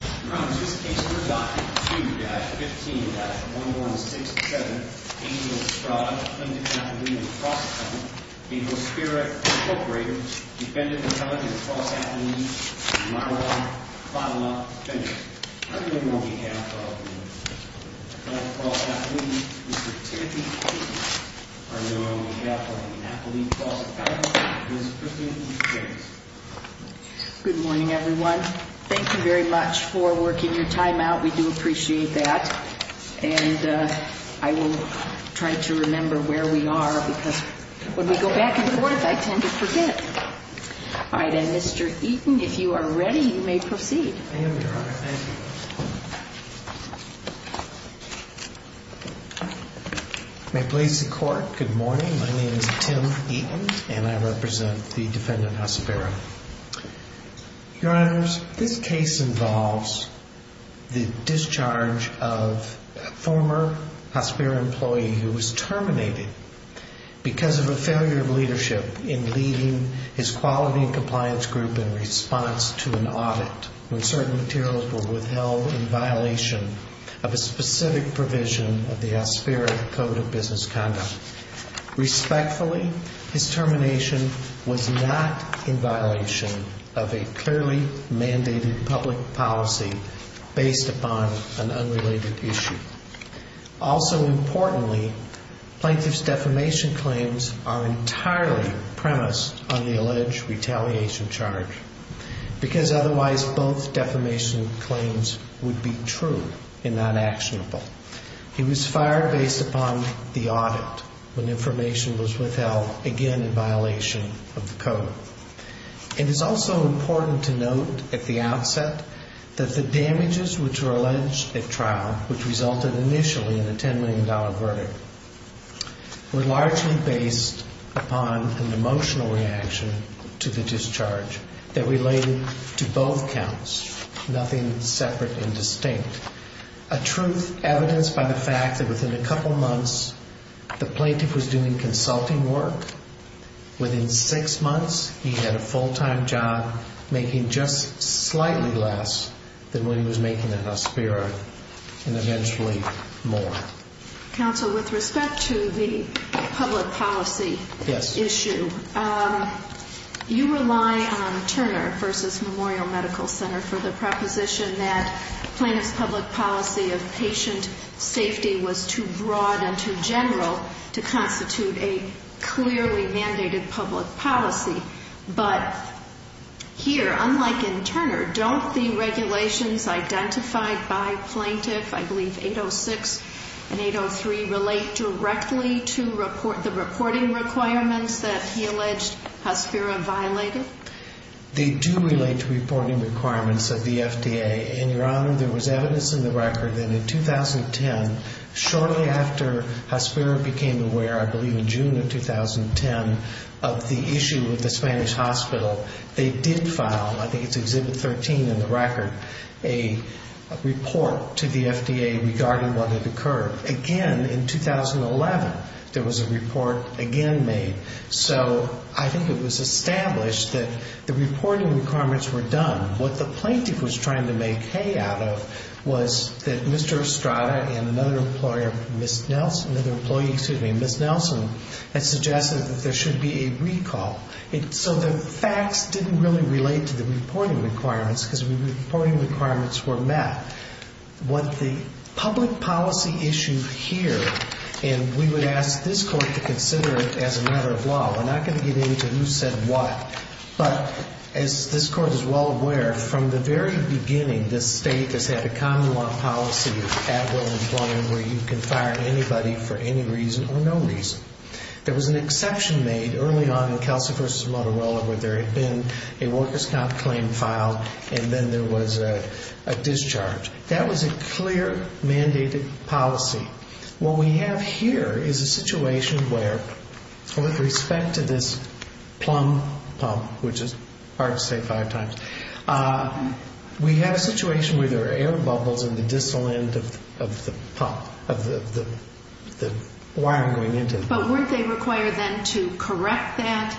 N15156. A, P2003 D, Hospira, Inc., V. S. v. Int., H-AL-D, Gulf of Mexico Supervisory Bureau, P-A-R-T 2003-1, Hospira. Thank you very much for working your time out. We do appreciate that. And I will try to remember where we are because when we go back and forth, I tend to forget. All right. And Mr. Eaton, if you are ready, you may proceed. Good morning. My name is Tim Eaton, and I represent the defendant, Hospira. Your Honors, this case involves the discharge of a former Hospira employee who was terminated because of a failure of leadership in leading his quality and compliance group in response to an audit, when certain materials were withheld in violation of a specific provision of the Hospira Code of Business Conduct. Respectfully, his termination was not in violation of a clearly mandated public policy based upon an unrelated issue. Also importantly, Plaintiff's defamation claims are entirely premised on the alleged retaliation charge because otherwise both defamation claims would be true and not actionable. He was fired based upon the audit when information was withheld, again in violation of the code. It is also important to note at the outset that the damages which were alleged at trial, which resulted initially in the $10 million verdict, were largely based upon an emotional reaction to the discharge that related to both counts, nothing separate and distinct. A truth evidenced by the fact that within a couple months, the plaintiff was doing consulting work. Within six months, he had a full-time job making just slightly less than when he was making at Hospira, and eventually more. Counsel, with respect to the public policy issue, you rely on Turner v. Memorial Medical Center for the proposition that Plaintiff's public policy of patient safety was too broad and too general to constitute a clearly mandated public policy. But here, unlike in Turner, don't the regulations identified by Plaintiff, I believe 806 and 803, relate directly to the reporting requirements that he alleged Hospira violated? They do relate to reporting requirements of the FDA, and your Honor, there was evidence in the record that in 2010, shortly after Hospira became aware, I believe in June of 2010, of the issue with the Spanish Hospital, they did file, I think it's Exhibit 13 in the record, a report to the FDA regarding what had occurred. However, again in 2011, there was a report again made. So I think it was established that the reporting requirements were done. What the plaintiff was trying to make hay out of was that Mr. Estrada and another employee, Ms. Nelson, had suggested that there should be a recall. So the facts didn't really relate to the reporting requirements because the reporting requirements were met. What the public policy issue here, and we would ask this Court to consider it as a matter of law. We're not going to get into who said what. But as this Court is well aware, from the very beginning, this State has had a common law policy of at-will employment where you can fire anybody for any reason or no reason. There was an exception made early on in Kelsey v. Motorola where there had been a worker's stop claim filed and then there was a discharge. That was a clear mandated policy. What we have here is a situation where, with respect to this plum pump, which is part of the State Fire Times, we have a situation where there are air bubbles in the distal end of the wire going into it. But weren't they required then to correct that?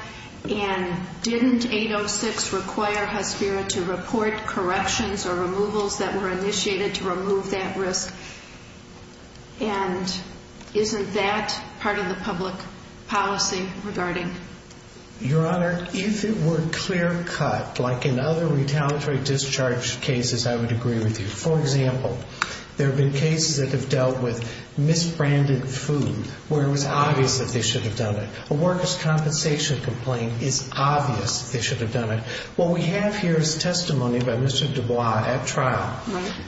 And didn't 806 require HUD-CERA to report corrections or removals that were initiated to remove that risk? And isn't that part of the public policy regarding? Your Honor, if it were clear cut, like in other retaliatory discharge cases, I would agree with you. For example, there have been cases that have dealt with misbranded food where it was obvious that they should have done it. A worker's compensation complaint, it's obvious they should have done it. What we have here is testimony by Mr. Dubois at trial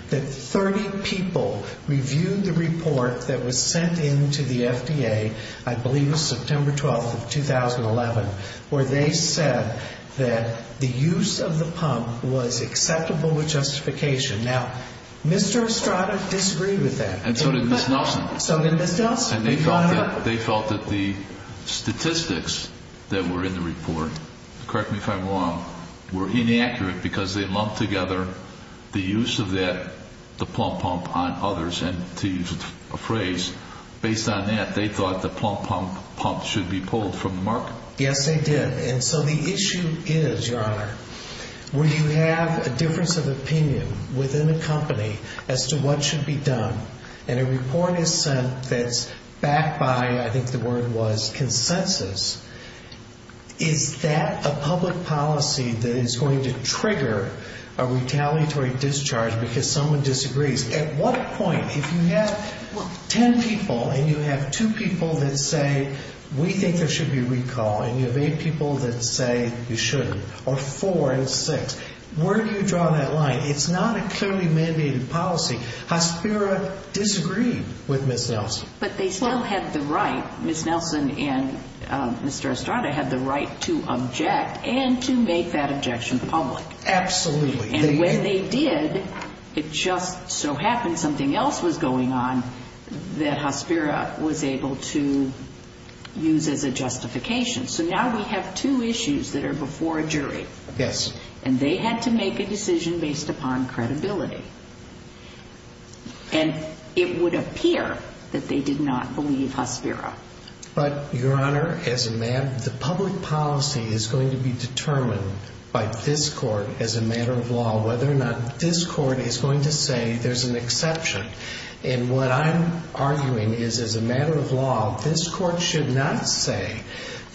that 30 people reviewed the report that was sent in to the FDA, I believe it was September 12, 2011, where they said that the use of the pump was acceptable with justification. Now, Mr. Estrada disagreed with that. And so did Ms. Nelson. So did Ms. Nelson. And they felt that the statistics that were in the report, correct me if I'm wrong, were inaccurate because they lumped together the use of the pump on others and to use a phrase. Based on that, they thought the pump should be pulled from the market. Yes, they did. And so the issue is, Your Honor, when you have a difference of opinion within a company as to what should be done, and a report is sent that's backed by, I think the word was, consensus, is that a public policy that is going to trigger a retaliatory discharge because someone disagrees? At what point, if you have ten people and you have two people that say, we think there should be recall, and you have eight people that say you shouldn't, or four and six, where do you draw that line? It's not a clearly mandated policy. Hospira disagreed with Ms. Nelson. But they still had the right, Ms. Nelson and Mr. Estrada had the right to object and to make that objection public. Absolutely. And when they did, it just so happened something else was going on that Hospira was able to use as a justification. So now we have two issues that are before a jury. Yes. And they had to make a decision based upon credibility. And it would appear that they did not believe Hospira. But, Your Honor, as a man, the public policy is going to be determined by this court as a matter of law, whether or not this court is going to say there's an exception. And what I'm arguing is, as a matter of law, this court should not say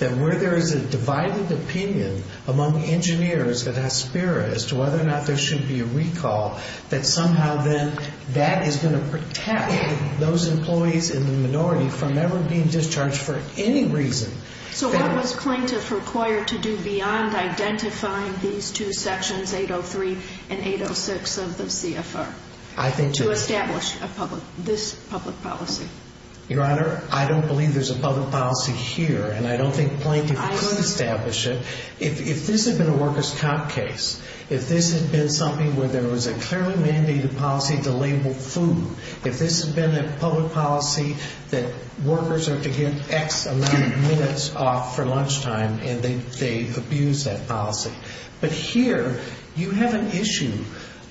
that where there is a divided opinion among engineers at Hospira as to whether or not there should be a recall, that somehow then that is going to protect those employees in the minority from ever being discharged for any reason. So what does plaintiff require to do beyond identifying these two sections, 803 and 806 of the CFR? I think you're right. To establish this public policy? Your Honor, I don't believe there's a public policy here. And I don't think plaintiff could establish it. If this had been a workers' comp case, if this had been something where there was a clearly mandated policy to label food, if this had been a public policy that workers are to give X amount of minutes off for lunchtime and they say abuse that policy. But here, you have an issue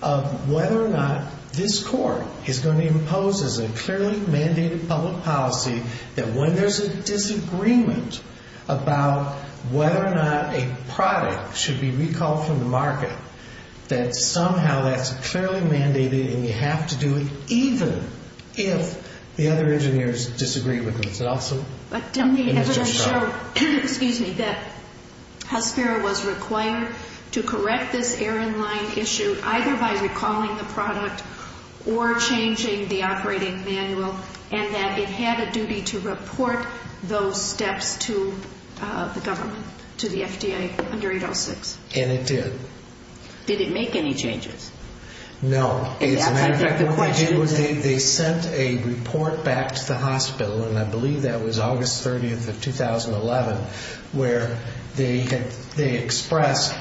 of whether or not this court is going to impose as a clearly mandated public policy that when there's a disagreement about whether or not a product should be recalled from the market, that somehow that's clearly mandated and you have to do it even if the other engineers disagree with themselves. But that doesn't show that Hospiro was required to correct this errand line issue either by recalling the product or changing the operating manual and that it had a duty to report those steps to the FDA under 806. And it did. Did it make any changes? No. They sent a report back to the hospital, and I believe that was August 30th of 2011, where they expressed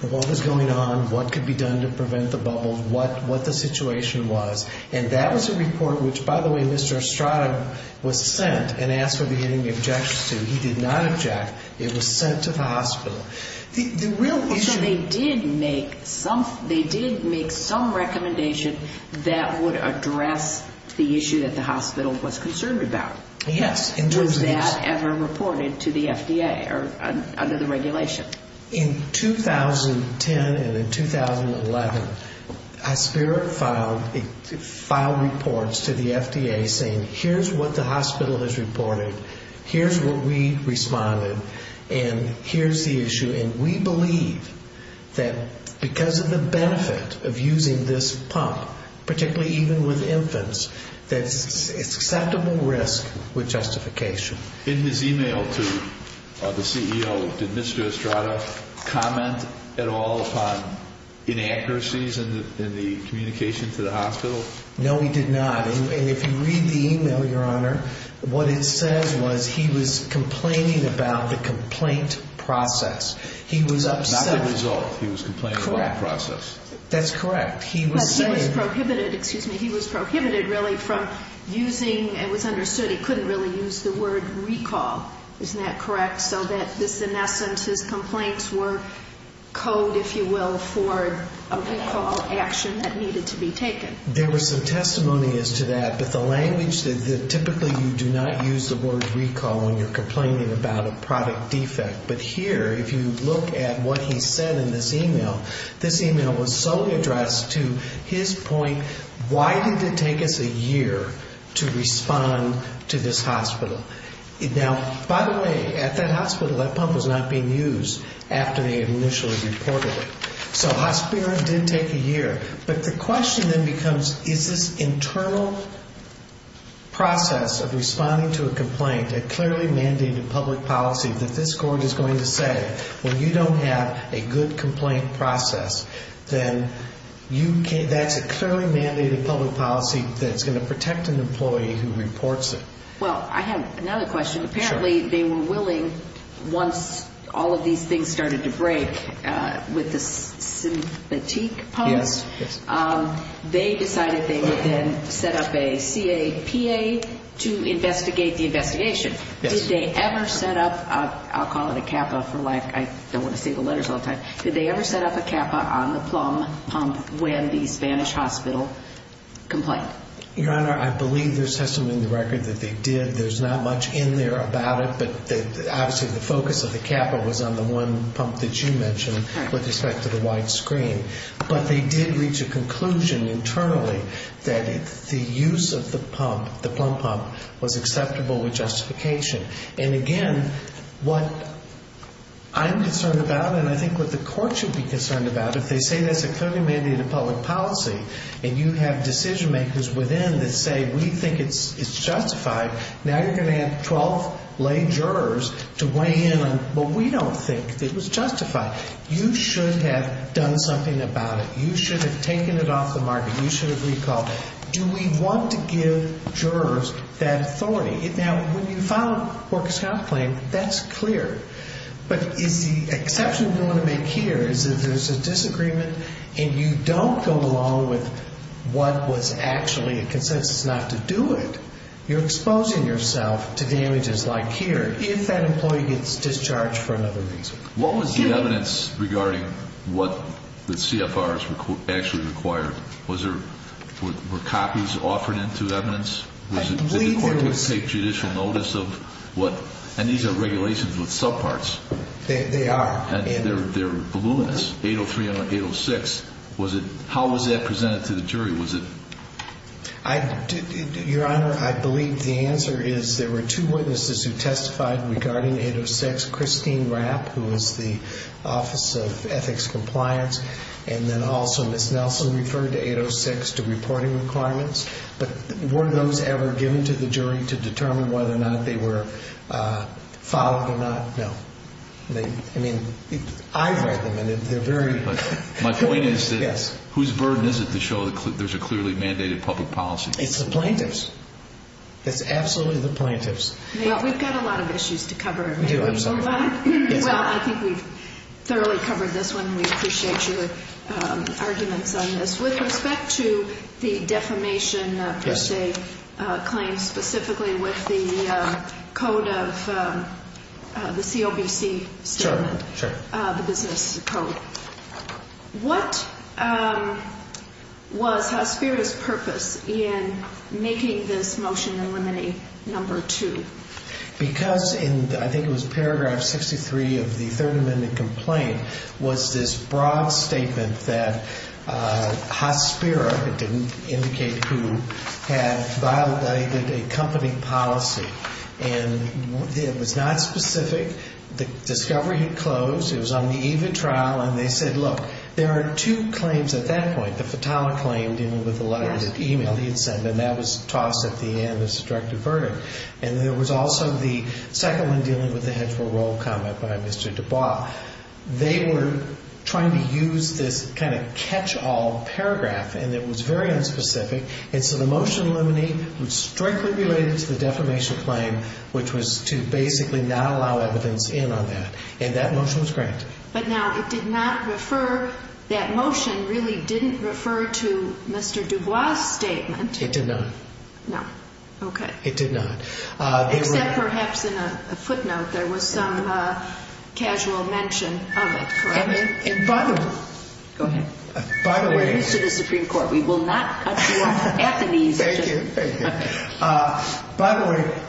what was going on, what could be done to prevent the bubble, what the situation was. And that was a report which, by the way, Mr. Estrada was sent and asked if he had any objections to. He did not object. It was sent to the hospital. They did make some recommendation that would address the issue that the hospital was concerned about. Yes. Was that ever reported to the FDA under the regulation? In 2010 and in 2011, Hospiro filed reports to the FDA saying here's what the hospital has reported, here's what we respond with, and here's the issue. And we believe that because of the benefit of using this pump, particularly even with infants, that it's acceptable risk with justification. In his email to the CEO, did Mr. Estrada comment at all upon inaccuracies in the communication to the hospital? No, he did not. If you read the email, Your Honor, what it says was he was complaining about the complaint process. He was up to no good. Not the result. He was complaining about the process. Correct. That's correct. He was prohibited, excuse me, he was prohibited really from using, it was understood he couldn't really use the word recall. Isn't that correct? So that just in that sense his complaints were code, if you will, for a recall action that needed to be taken. There was some testimony as to that. But the language, typically you do not use the word recall when you're complaining about a product defect. But here, if you look at what he said in this email, this email was solely addressed to his point, why did it take us a year to respond to this hospital? Now, by the way, at that hospital that pump was not being used after they had initially reported it. So Hospiro did take a year. But the question then becomes, is this internal process of responding to a complaint a clearly mandated public policy that this court is going to say, well, you don't have a good complaint process, then that's a clearly mandated public policy that's going to protect an employee who reports it. Well, I have another question. Apparently they were willing once all of these things started to break with the fatigue pump, they decided they would then set up a CAPA to investigate the investigation. Did they ever set up, I'll call it a CAPA for lack, I don't want to say the letters all the time, did they ever set up a CAPA on the plumb pump when the Spanish hospital complained? Your Honor, I believe there's testimony in the record that they did. There's not much in there about it, but obviously the focus of the CAPA was on the one pump that you mentioned with respect to the white screen. But they did reach a conclusion internally that the use of the pump, the plumb pump, was acceptable with justification. And, again, what I'm concerned about and I think what the court should be concerned about is if they say that's a condominium of public policy and you have decision makers within that say, we think it's justified, now you're going to have 12 lay jurors to weigh in on, well, we don't think it was justified. You should have done something about it. You should have taken it off the market. You should have recalled it. Do we want to give jurors that authority? Now, when you file a corpus health claim, that's clear. But the exception we want to make here is that there's a disagreement and you don't go along with what was actually consensus not to do it. You're exposing yourself to damages like here if that employee gets discharged for another reason. What was the evidence regarding what the CFRs actually required? Were copies offered into evidence? And these are regulations with subparts. They are. And they're voluminous, 803 and 806. How was that presented to the jury? Your Honor, I believe the answer is there were two witnesses who testified regarding 806, Christine Rapp, who was the Office of Ethics Compliance, and then also Ms. Nelson referred to 806 to reporting requirements. But were those ever given to the jury to determine whether or not they were filed or not? No. I read them and they're very good. My point is that whose burden is it to show that there's a clearly mandated public policy? It's the plaintiffs. It's absolutely the plaintiffs. We've got a lot of issues to cover. I think we've thoroughly covered this one. We appreciate your arguments on this. With respect to the defamation, per se, claims specifically with the code of the COVC, the business code, what was the spirit of purpose in making this motion and limiting number two? Because in, I think it was paragraph 63 of the Third Amendment complaint, was this broad statement that Hot Spirit, it didn't indicate who, had violated a company policy. And it was not specific. The discovery had closed. It was on the eve of trial. And they said, look, there are two claims at that point, the fatality claim dealing with the letters of e-mail he had sent, and that was tossed at the end as destructive burden. And there was also the second one dealing with the head for a role of combat by Mr. Dubois. They were trying to use this kind of catch-all paragraph, and it was very unspecific. And so the motion limiting was strictly related to the defamation claim, which was to basically not allow evidence in on that. And that motion was granted. But now, it did not refer, that motion really didn't refer to Mr. Dubois' statement. It did not. No. Okay. It did not. Except perhaps in a footnote, there was some casual mention. Go ahead. By the way,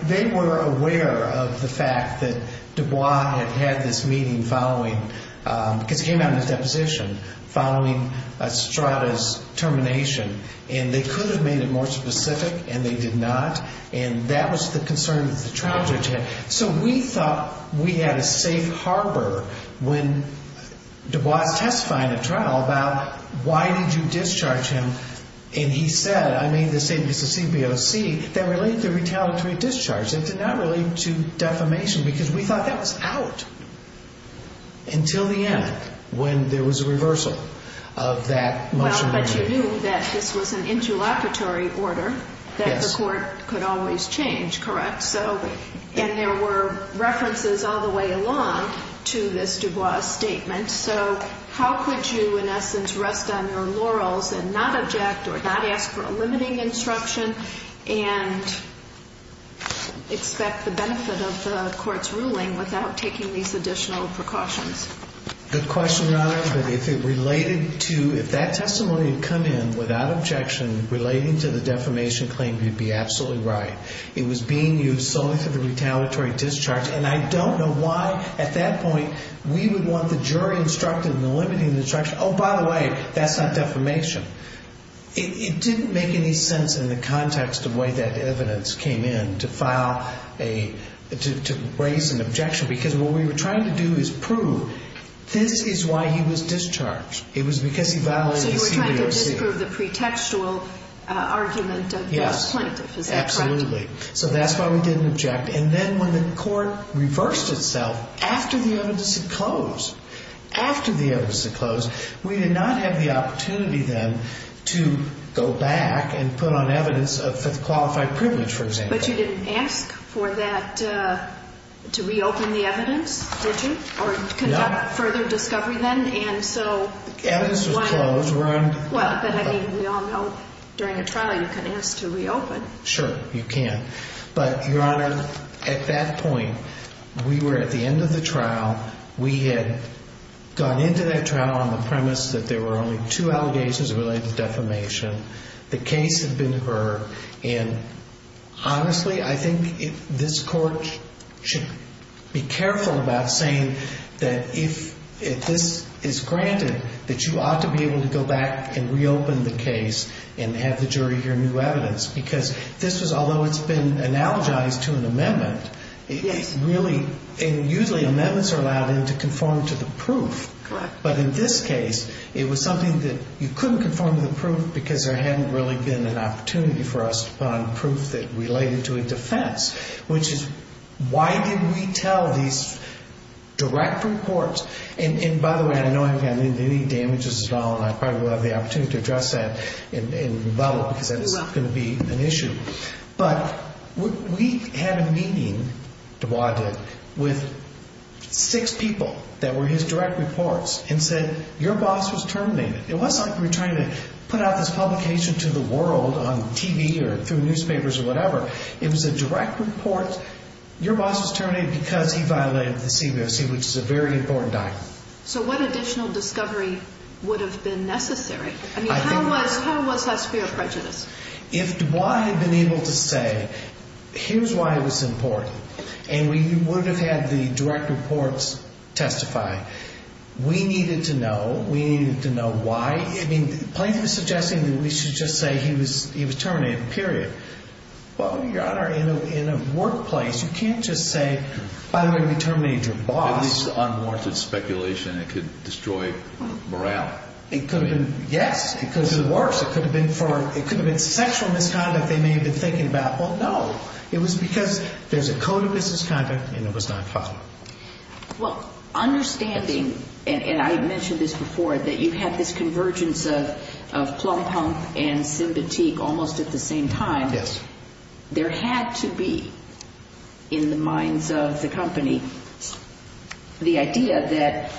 they were aware of the fact that Dubois had had this meeting following, because he had a deposition, following Estrada's termination. And they could have made it more specific, and they did not. And that was the concern that the trials rejected. So we thought we had a safe harbor when Dubois testified in a trial about, why did you discharge him? And he said, I made the statement for CBOC that related to retaliatory discharge. It did not relate to defamation, because we thought that was out until the end, when there was a reversal of that motion limiting. But you knew that this was an interlocutory order that the court could always change, correct? And there were references all the way along to this Dubois statement. So how could you, in essence, rest on your laurels and not object or not ask for a limiting instruction and expect the benefit of the court's ruling without taking these additional precautions? The question not answered. If that testimony had come in without objection relating to the defamation claim, you'd be absolutely right. It was being used solely for the retaliatory discharge. And I don't know why, at that point, we would want the jury instructed in the limiting instruction, oh, by the way, that's not defamation. It didn't make any sense in the context of the way that evidence came in to raise an objection, because what we were trying to do is prove this is why he was discharged. It was because he violated a few years here. So you were trying to disprove the pretextual argument of the plaintiff, is that correct? Yes, absolutely. So that's why we didn't object. And then when the court reversed itself, after the evidence had closed, after the evidence had closed, we did not have the opportunity then to go back and put on evidence the qualified privilege, for example. But you didn't ask for that, to reopen the evidence, did you? No. Or conduct further discovery then? Evidence was closed, right? Well, I mean, we all know during a trial you can ask to reopen. Sure, you can. But, Your Honor, at that point, we were at the end of the trial. We had gone into that trial on the premise that there were only two allegations related to defamation. The case had been heard. And honestly, I think this court should be careful about saying that if this is granted, that you ought to be able to go back and reopen the case and have the jury hear new evidence. Because this is, although it's been analogized to an amendment, it really, and usually amendments are allowed then to conform to the proof. Correct. But in this case, it was something that you couldn't conform to the proof because there hadn't really been an opportunity for us to find proof that related to a defense, which is why didn't we tell these direct reports? And by the way, I know I haven't had any damages at all, and I probably wouldn't have had the opportunity to address that in the development that is going to be an issue. But we had a meeting, Dubois did, with six people that were his direct reports, and said, your boss was terminated. It wasn't like you were trying to put out this publication to the world on TV or through newspapers or whatever. It was a direct report. Your boss was terminated because he violated the CBOC, which is a very important document. So what additional discovery would have been necessary? I mean, how to one plus fear of prejudice? If Dubois had been able to say, here's why this is important, and we were going to have the direct reports testify, we needed to know, we needed to know why. I mean, Plank was suggesting that we should just say he was terminated, period. But when you're in a workplace, you can't just say, by the way, we terminated your boss. It's unwarranted speculation. It could destroy morale. Yes, because it works. Or it could have been sexual misconduct they may have been thinking about. Well, no. It was because there's a code of business conduct, and it was not foul. Well, understanding, and I mentioned this before, that you have this convergence of slum punk and sympathique almost at the same time. Yes. There had to be, in the minds of the company, the idea that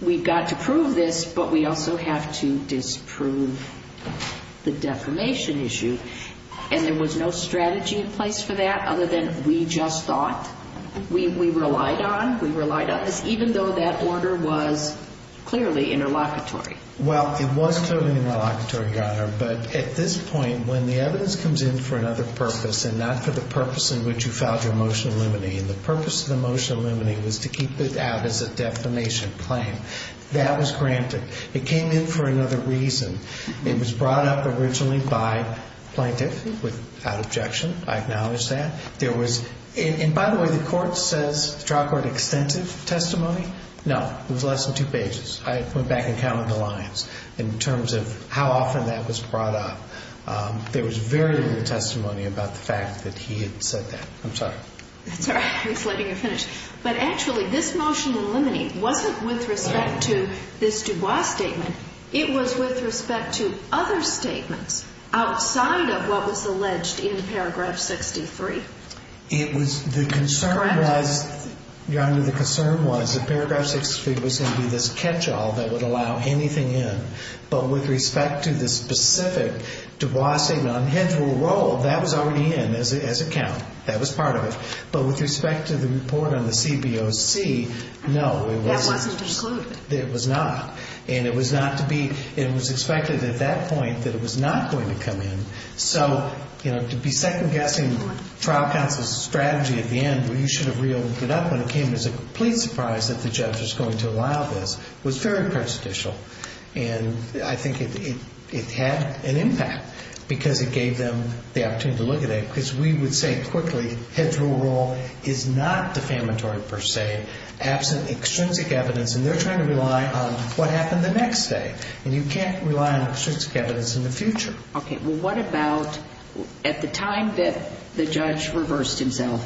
we've got to prove this, but we also have to disprove the defamation issue. And there was no strategy in place for that other than we just thought. We relied on it, even though that order was clearly interlocutory. Well, it was totally interlocutory, but at this point, when the evidence comes in for another purpose, and not for the purpose in which you filed your motion eliminating, the purpose of the motion eliminating was to keep it out as a defamation claim. That was granted. It came in for another reason. It was brought up originally by plaintiffs without objection. I acknowledge that. And, by the way, the court says the trial court extended testimony. No, it was less than two pages. I went back and counted the lines in terms of how often that was brought up. There was very little testimony about the fact that he had said that. I'm sorry. I'm sorry. I'm just letting you finish. But, actually, this motion eliminating wasn't with respect to this Dubois statement. It was with respect to other statements outside of what was alleged in paragraph 63. It was the concern that, your Honor, the concern was that paragraph 63 was going to be this catch-all that would allow anything in. But, with respect to the specific Dubois statement, I'm heading to a role that was already in as a count. That was part of it. But, with respect to the report on the CBOC, no, it wasn't. That wasn't excluded. It was not. And it was not to be. It was expected at that point that it was not going to come in. So, you know, to be second-guessing trial count was a strategy at the end. You should have reeled it up when it came. It was a complete surprise that the judge was going to allow this. It was very prestigious. And I think it had an impact because it gave them the opportunity to look at it. Because we would say quickly, head to a role is not defamatory per se, absent extrinsic evidence, and they're trying to rely on what happened the next day. And you can't rely on extrinsic evidence in the future. Okay. Well, what about at the time that the judge reversed himself?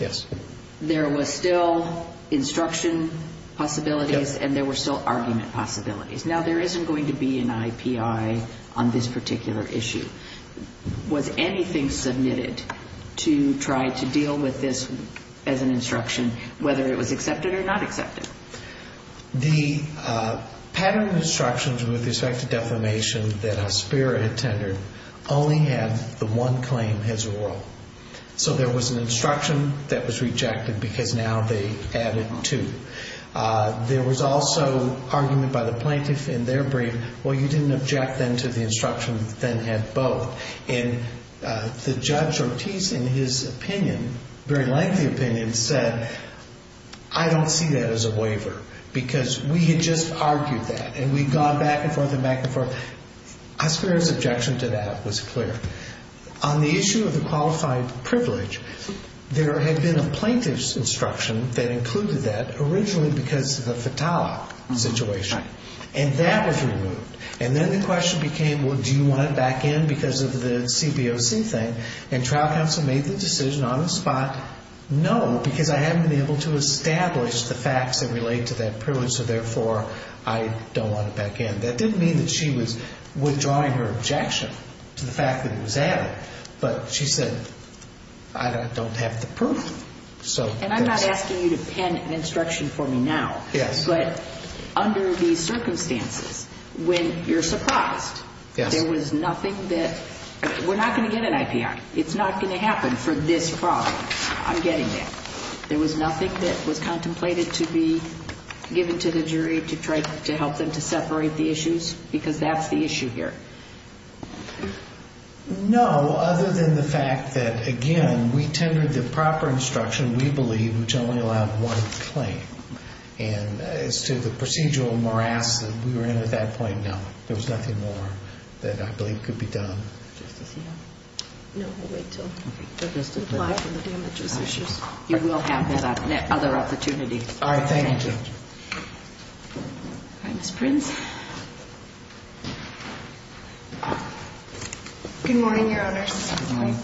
Yes. There were still instruction possibilities and there were still argument possibilities. Now, there isn't going to be an IPI on this particular issue. Was anything submitted to try to deal with this as an instruction, whether it was accepted or not accepted? The pattern of instructions with respect to defamation that a spirit attended only had the one claim, his or her. So there was an instruction that was rejected because now they added two. There was also argument by the plaintiff in their brief. Well, you didn't object then to the instruction that had both. And the judge Ortiz, in his opinion, very lengthy opinion, said, I don't see that as a waiver because we had just argued that and we'd gone back and forth and back and forth. I swear his objection to that was clear. On the issue of the qualified privilege, there had been a plaintiff's instruction that included that, originally because of the fatality situation. And that was removed. And then the question became, well, do you want it back in because of the CBOC thing? And trial counsel made the decision on the spot, no, because I hadn't been able to establish the facts that relate to that privilege, so therefore I don't want it back in. That didn't mean that she was withdrawing her objection to the fact that it was added, but she said, I don't have the proof. And I'm not asking you to pen an instruction for me now, but under the circumstances, when you're surprised, there was nothing that, we're not going to get an IPR. It's not going to happen for this problem. I'm getting it. There was nothing that was contemplated to be given to the jury to help them to separate the issues, because that's the issue here. No, other than the fact that, again, we tendered the proper instruction, we believe, which only allowed one claim. And as to the procedural morass that we were in at that point, no. There was nothing more that I believe could be done. You will have other opportunities. All right, thank you. Good morning, Your Honor. Good morning.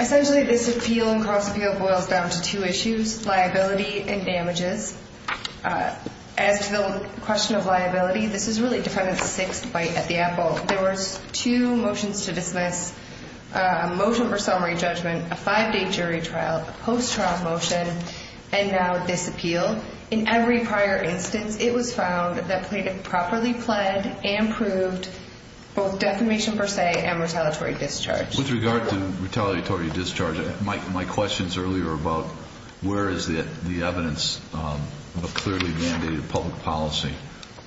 Essentially, this appeal and cross-appeal boils down to two issues, liability and damages. As to the question of liability, this is really dependent on the state's debate at the apple. There were two motions to dismiss, a motion for summary judgment, a five-day jury trial, a post-trial motion, and now this appeal. In every prior instance, it was found that it was properly planned and proved both defamation per se and retaliatory discharge. With regard to retaliatory discharge, my question is earlier about where is the evidence of a clearly mandated public policy?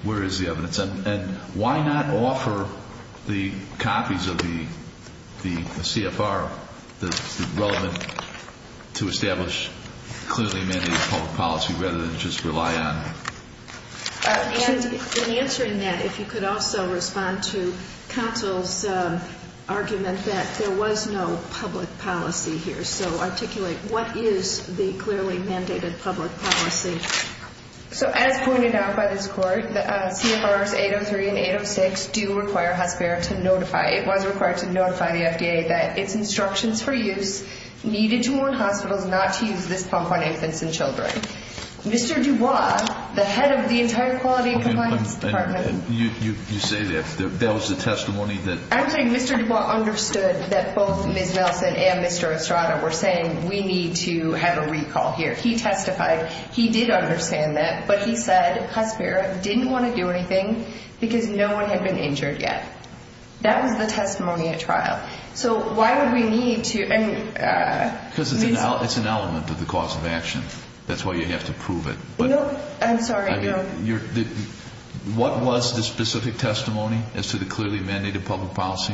Where is the evidence? And why not offer the copies of the CFR that's relevant to establish clearly mandated public policy rather than just rely on it? In answering that, if you could also respond to counsel's argument that there was no public policy here, so articulate what is the clearly mandated public policy. So as pointed out by this Court, CFRs 803 and 806 do require health care to notify. It was required to notify the FDA that if instruction previewed, needed to warn hospitals not to use this pump on infants and children. Mr. DuBois, the head of the entire quality compliance department. You say that. That was the testimony that? Actually, Mr. DuBois understood that both Ms. Nelson and Mr. Estrada were saying, we need to have a recall here. He testified. He did understand that, but he said health care didn't want to do anything because no one had been injured yet. That was the testimony at trial. So why would we need to? Because it's an element of the cause of action. That's why you have to prove it. I'm sorry. What was the specific testimony as to the clearly mandated public policy?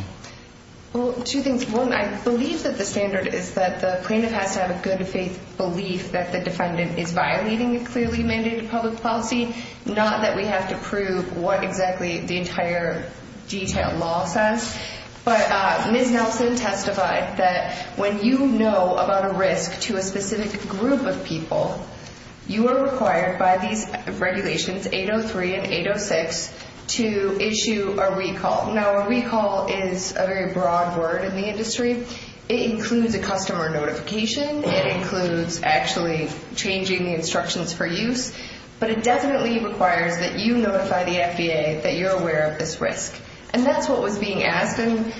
Well, I believe that the standard is that the plaintiff has to have a good faith belief that the defendant is violating the clearly mandated public policy, not that we have to prove what exactly the entire detail law says. But Ms. Nelson testified that when you know about a risk to a specific group of people, you are required by these regulations, 803 and 806, to issue a recall. Now, a recall is a very broad word in the industry. It includes a customer notification. It includes actually changing instructions for use. But it definitely requires that you notify the FDA that you're aware of this risk. And that's what was being asked. And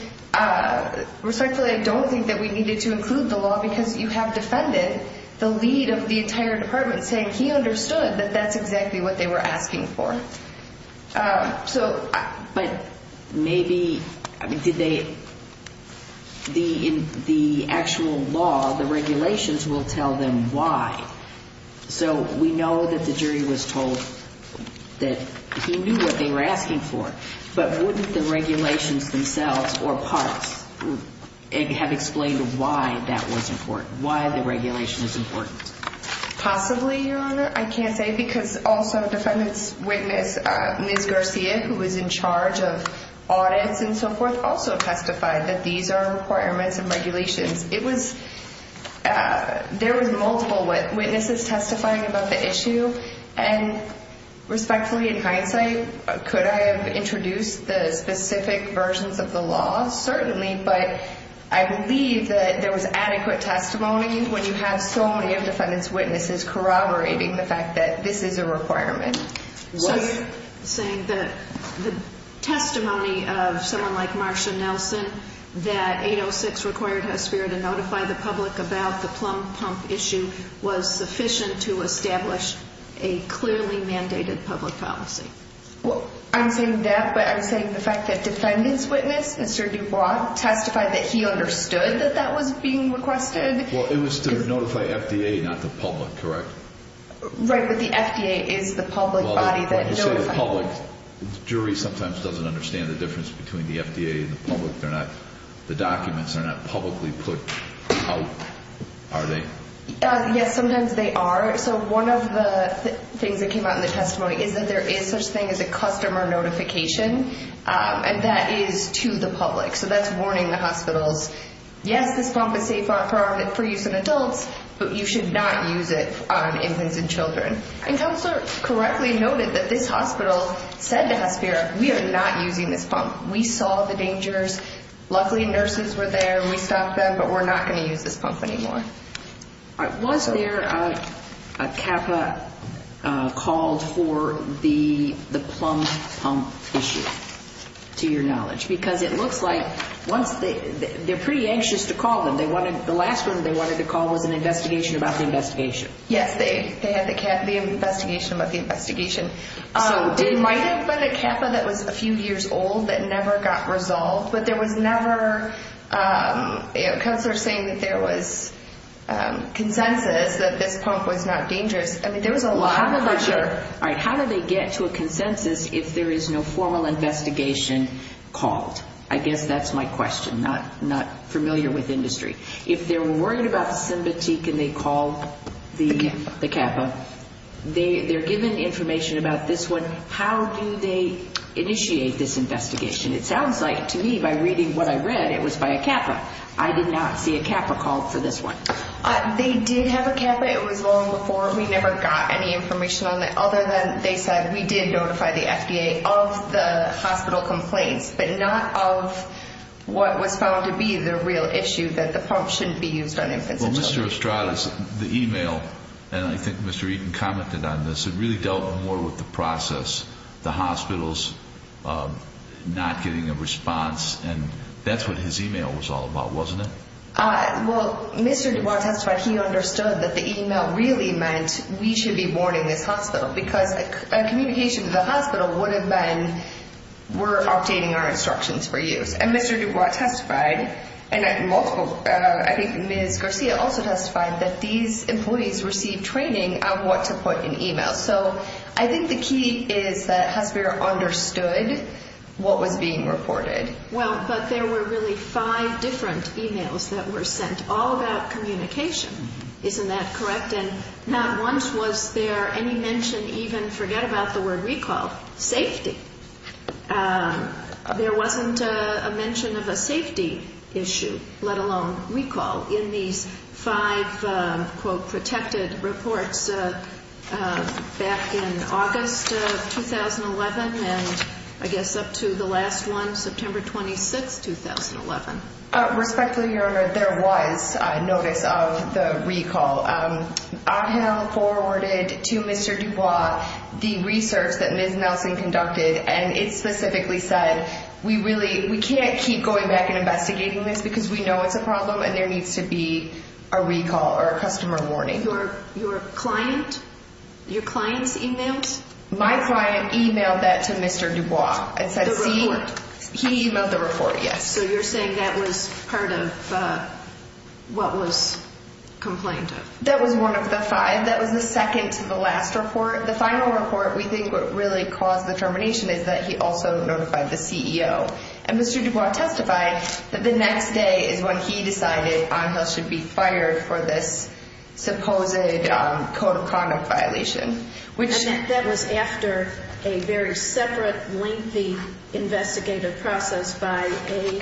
respectfully, I don't think that we needed to include the law because you have defended the lead of the entire department saying he understood that that's exactly what they were asking for. But maybe the actual law, the regulations, will tell them why. So we know that the jury was told that he knew what they were asking for. But wouldn't the regulations themselves or PARC have explained why that was important, why the regulation was important? Possibly, Your Honor. I can't say because also defendants' witness, New Garcia, who was in charge of audits and so forth, also testified that these are important regulations. There was multiple witnesses testifying about the issue. And respectfully, in hindsight, could I have introduced the specific versions of the law? Certainly. I'm just corroborating the fact that this is a requirement. So you're saying that the testimony of someone like Marcia Nelson, that 806 required HESPIR to notify the public about the plumb-pump issue, was sufficient to establish a clearly mandated public policy? Well, I'm saying that, but I'm saying the fact that defendants' witness, Mr. Dubois, testified that he understood that that was being requested. Well, it was to notify FDA, not the public, correct? Right. But the FDA is the public body that notified. So the public jury sometimes doesn't understand the difference between the FDA and the public and that the documents are not publicly put out, are they? Yes, sometimes they are. So one of the things that came out in the testimony is that there is such a thing as a customer notification, and that is to the public. So that's warning the hospitals, yes, this pump is safe for use in adults, but you should not use it on infants and children. And I also correctly noted that this hospital said to HESPIR we are not using this pump. We saw the dangers. Luckily, nurses were there. We stopped them, but we're not going to use this pump anymore. Was there a CAFA call for the plumb-pump issue, to your knowledge? Because it looks like they're pretty anxious to call them. The last one they wanted to call was an investigation about the investigation. Yes, they had the CAFA investigation about the investigation. It might have been a CAFA that was a few years old that never got resolved, but there was never – because they're saying that there was consensus that this pump was not dangerous. I mean, there was a lot of – All right, how do they get to a consensus if there is no formal investigation called? I guess that's my question, not familiar with industry. If they're worried about the sympathy, can they call the CAFA? They're given information about this one. How do they initiate this investigation? It sounds like to me, by reading what I read, it was by a CAFA. I did not see a CAFA call for this one. They did have a CAFA. It was long before. We never got any information on it, other than they said, we did notify the FDA of the hospital complaints, but not of what was found to be the real issue, that the pump shouldn't be used on infants. Well, Mr. Ostrowski, the email, and I think Mr. Eden commented on this, it really dealt more with the process, the hospitals not getting a response, and that's what his email was all about, wasn't it? Well, Mr. DuBois testified he understood that the email really meant we should be warning the hospital because a communication to the hospital would have been, we're updating our instructions for you. And Mr. DuBois testified, and I think Ms. Garcia also testified, that these employees received training on what to put in email. So I think the key is that Husker understood what was being reported. Well, but there were really five different emails that were sent, all about communication. Isn't that correct? And not once was there any mention even, forget about the word recall, safety. There wasn't a mention of a safety issue, let alone recall, in the five, quote, protected reports back in August of 2011, and I guess up to the last one, September 26th, 2011. Respectfully, Your Honor, there was notice of the recall. I have forwarded to Mr. DuBois the research that Ms. Mousley conducted, and it specifically said we really, we can't keep going back and investigating this because we know it's a problem and there needs to be a recall or a customer warning. Your client, your client's email? My client emailed that to Mr. DuBois. The report? He emailed the report, yes. So you're saying that was part of what was complained of? That was one of the five. That was the second to the last report. The final report, we think what really caused the termination is that he also notified the CEO. And Mr. DuBois testified that the next day is when he decided Angel should be fired for this supposed, quote, chronic violation. And that was after a very separate, lengthy investigative process by a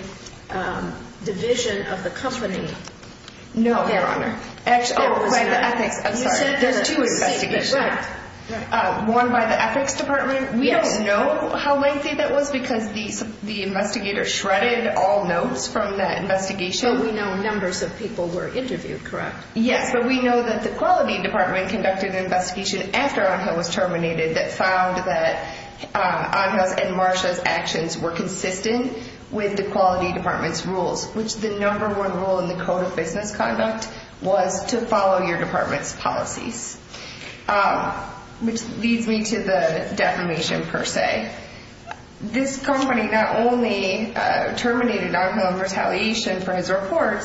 physician of the company. No, Your Honor. Oh, right, the ethics. I'm sorry, there are two investigations. One by the ethics department. We don't know how lengthy that was because the investigator shredded all notes from that investigation. But we know numbers of people were interviewed, correct? Yes, but we know that the quality department conducted an investigation after Angel was terminated that found that Angel and Marcia's actions were consistent with the quality department's rules, which the number one rule in the code of business conduct was to follow your department's policy, which leads me to the defamation, per se. This company not only terminated Nelson on retaliation for his report,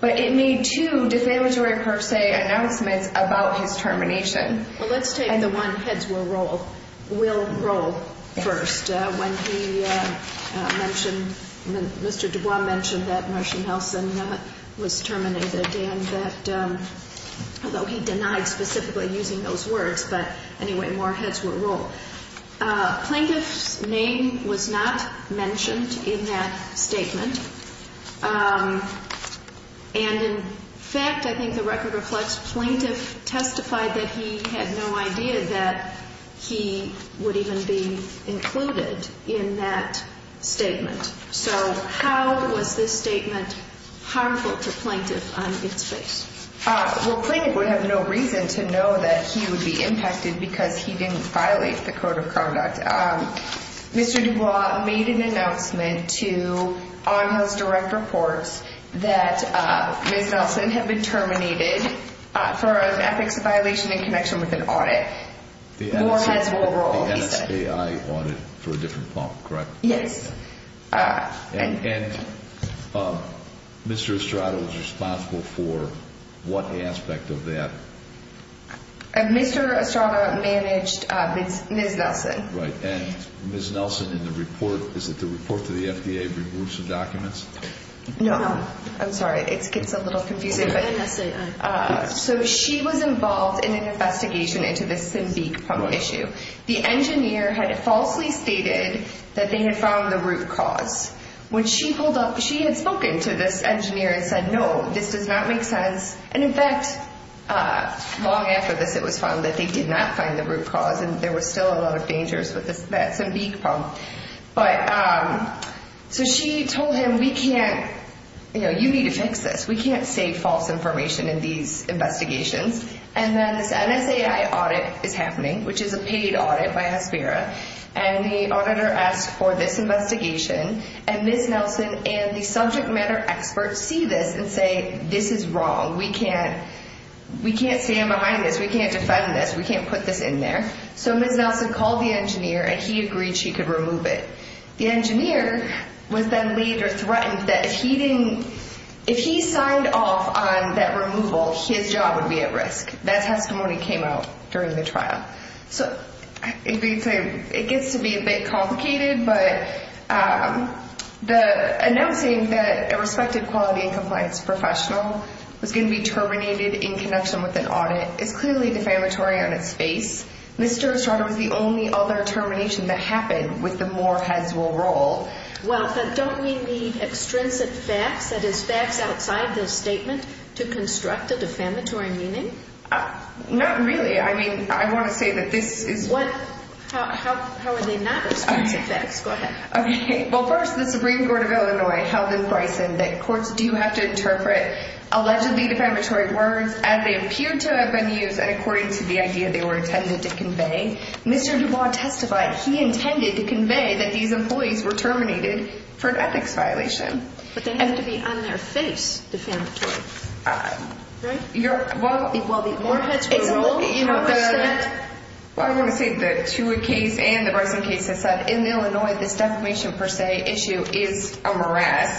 but it made two defamatory, per se, announcements about his termination. Well, let's take the one heads will roll first. When he mentioned, Mr. Dubois mentioned that Marcia Nelson was terminated, and that, although he denied specifically using those words, but anyway, more heads will roll. Plaintiff's name was not mentioned in that statement. And in fact, I think the record reflects plaintiff testified that he had no idea that he would even be included in that statement. So how was this statement harmful to plaintiff on its face? Well, plaintiff would have no reason to know that he would be impacted because he didn't violate the code of conduct. Mr. Dubois made an announcement to, on his direct report, that Ms. Nelson had been terminated for an ethics violation in connection with an audit. More heads will roll. The NSAI audit for a different pump, correct? Yes. And Mr. Estrada was responsible for what aspect of that? Mr. Estrada managed Ms. Nelson. Right. And Ms. Nelson, in the report, is it the report to the FDA to remove some documents? No. I'm sorry. It gets a little confusing. So she was involved in an investigation into the Simbique pump issue. The engineer had falsely stated that they had found the root cause. She had spoken to this engineer and said, no, this does not make sense. And in fact, long after this, it was found that they did not find the root cause and there was still a lot of dangers with the Simbique pump. So she told him, you need to fix this. We can't say false information in these investigations. And then this NSAI audit is happening, which is a paid audit by ACERA, and the auditor asks for this investigation. And Ms. Nelson and the subject matter experts see this and say, this is wrong. We can't stand behind this. We can't defend this. We can't put this in there. So Ms. Nelson called the engineer and he agreed she could remove it. The engineer was then later threatened that if he signed off on that removal, his job would be at risk. That testimony came out during the trial. So it gets to be a bit complicated, but the announcing that a respected quality and compliance professional was going to be terminated in connection with an audit is clearly defamatory on its face. Mr. O'Shaughnessy's only other termination that happened was the Moore-Hensel role. Well, but don't we need extrinsic facts, that is, facts outside those statements, to construct a defamatory meaning? Not really. I mean, I want to say that this is – What? How are they not? Go ahead. Okay. Well, first, the Supreme Court of Illinois held this right, that courts do have to interpret allegedly defamatory words as they appear to have been used and according to the idea they were intended to convey. Mr. DuBois testified he intended to convey that these employees were terminated for an ethics violation. But they have to be on their face defamatory, right? Well, the Moore-Hensel role, you know, the – What I want to say is that to a case and a record case, is that in Illinois the defamation, per se, issue is a mirage.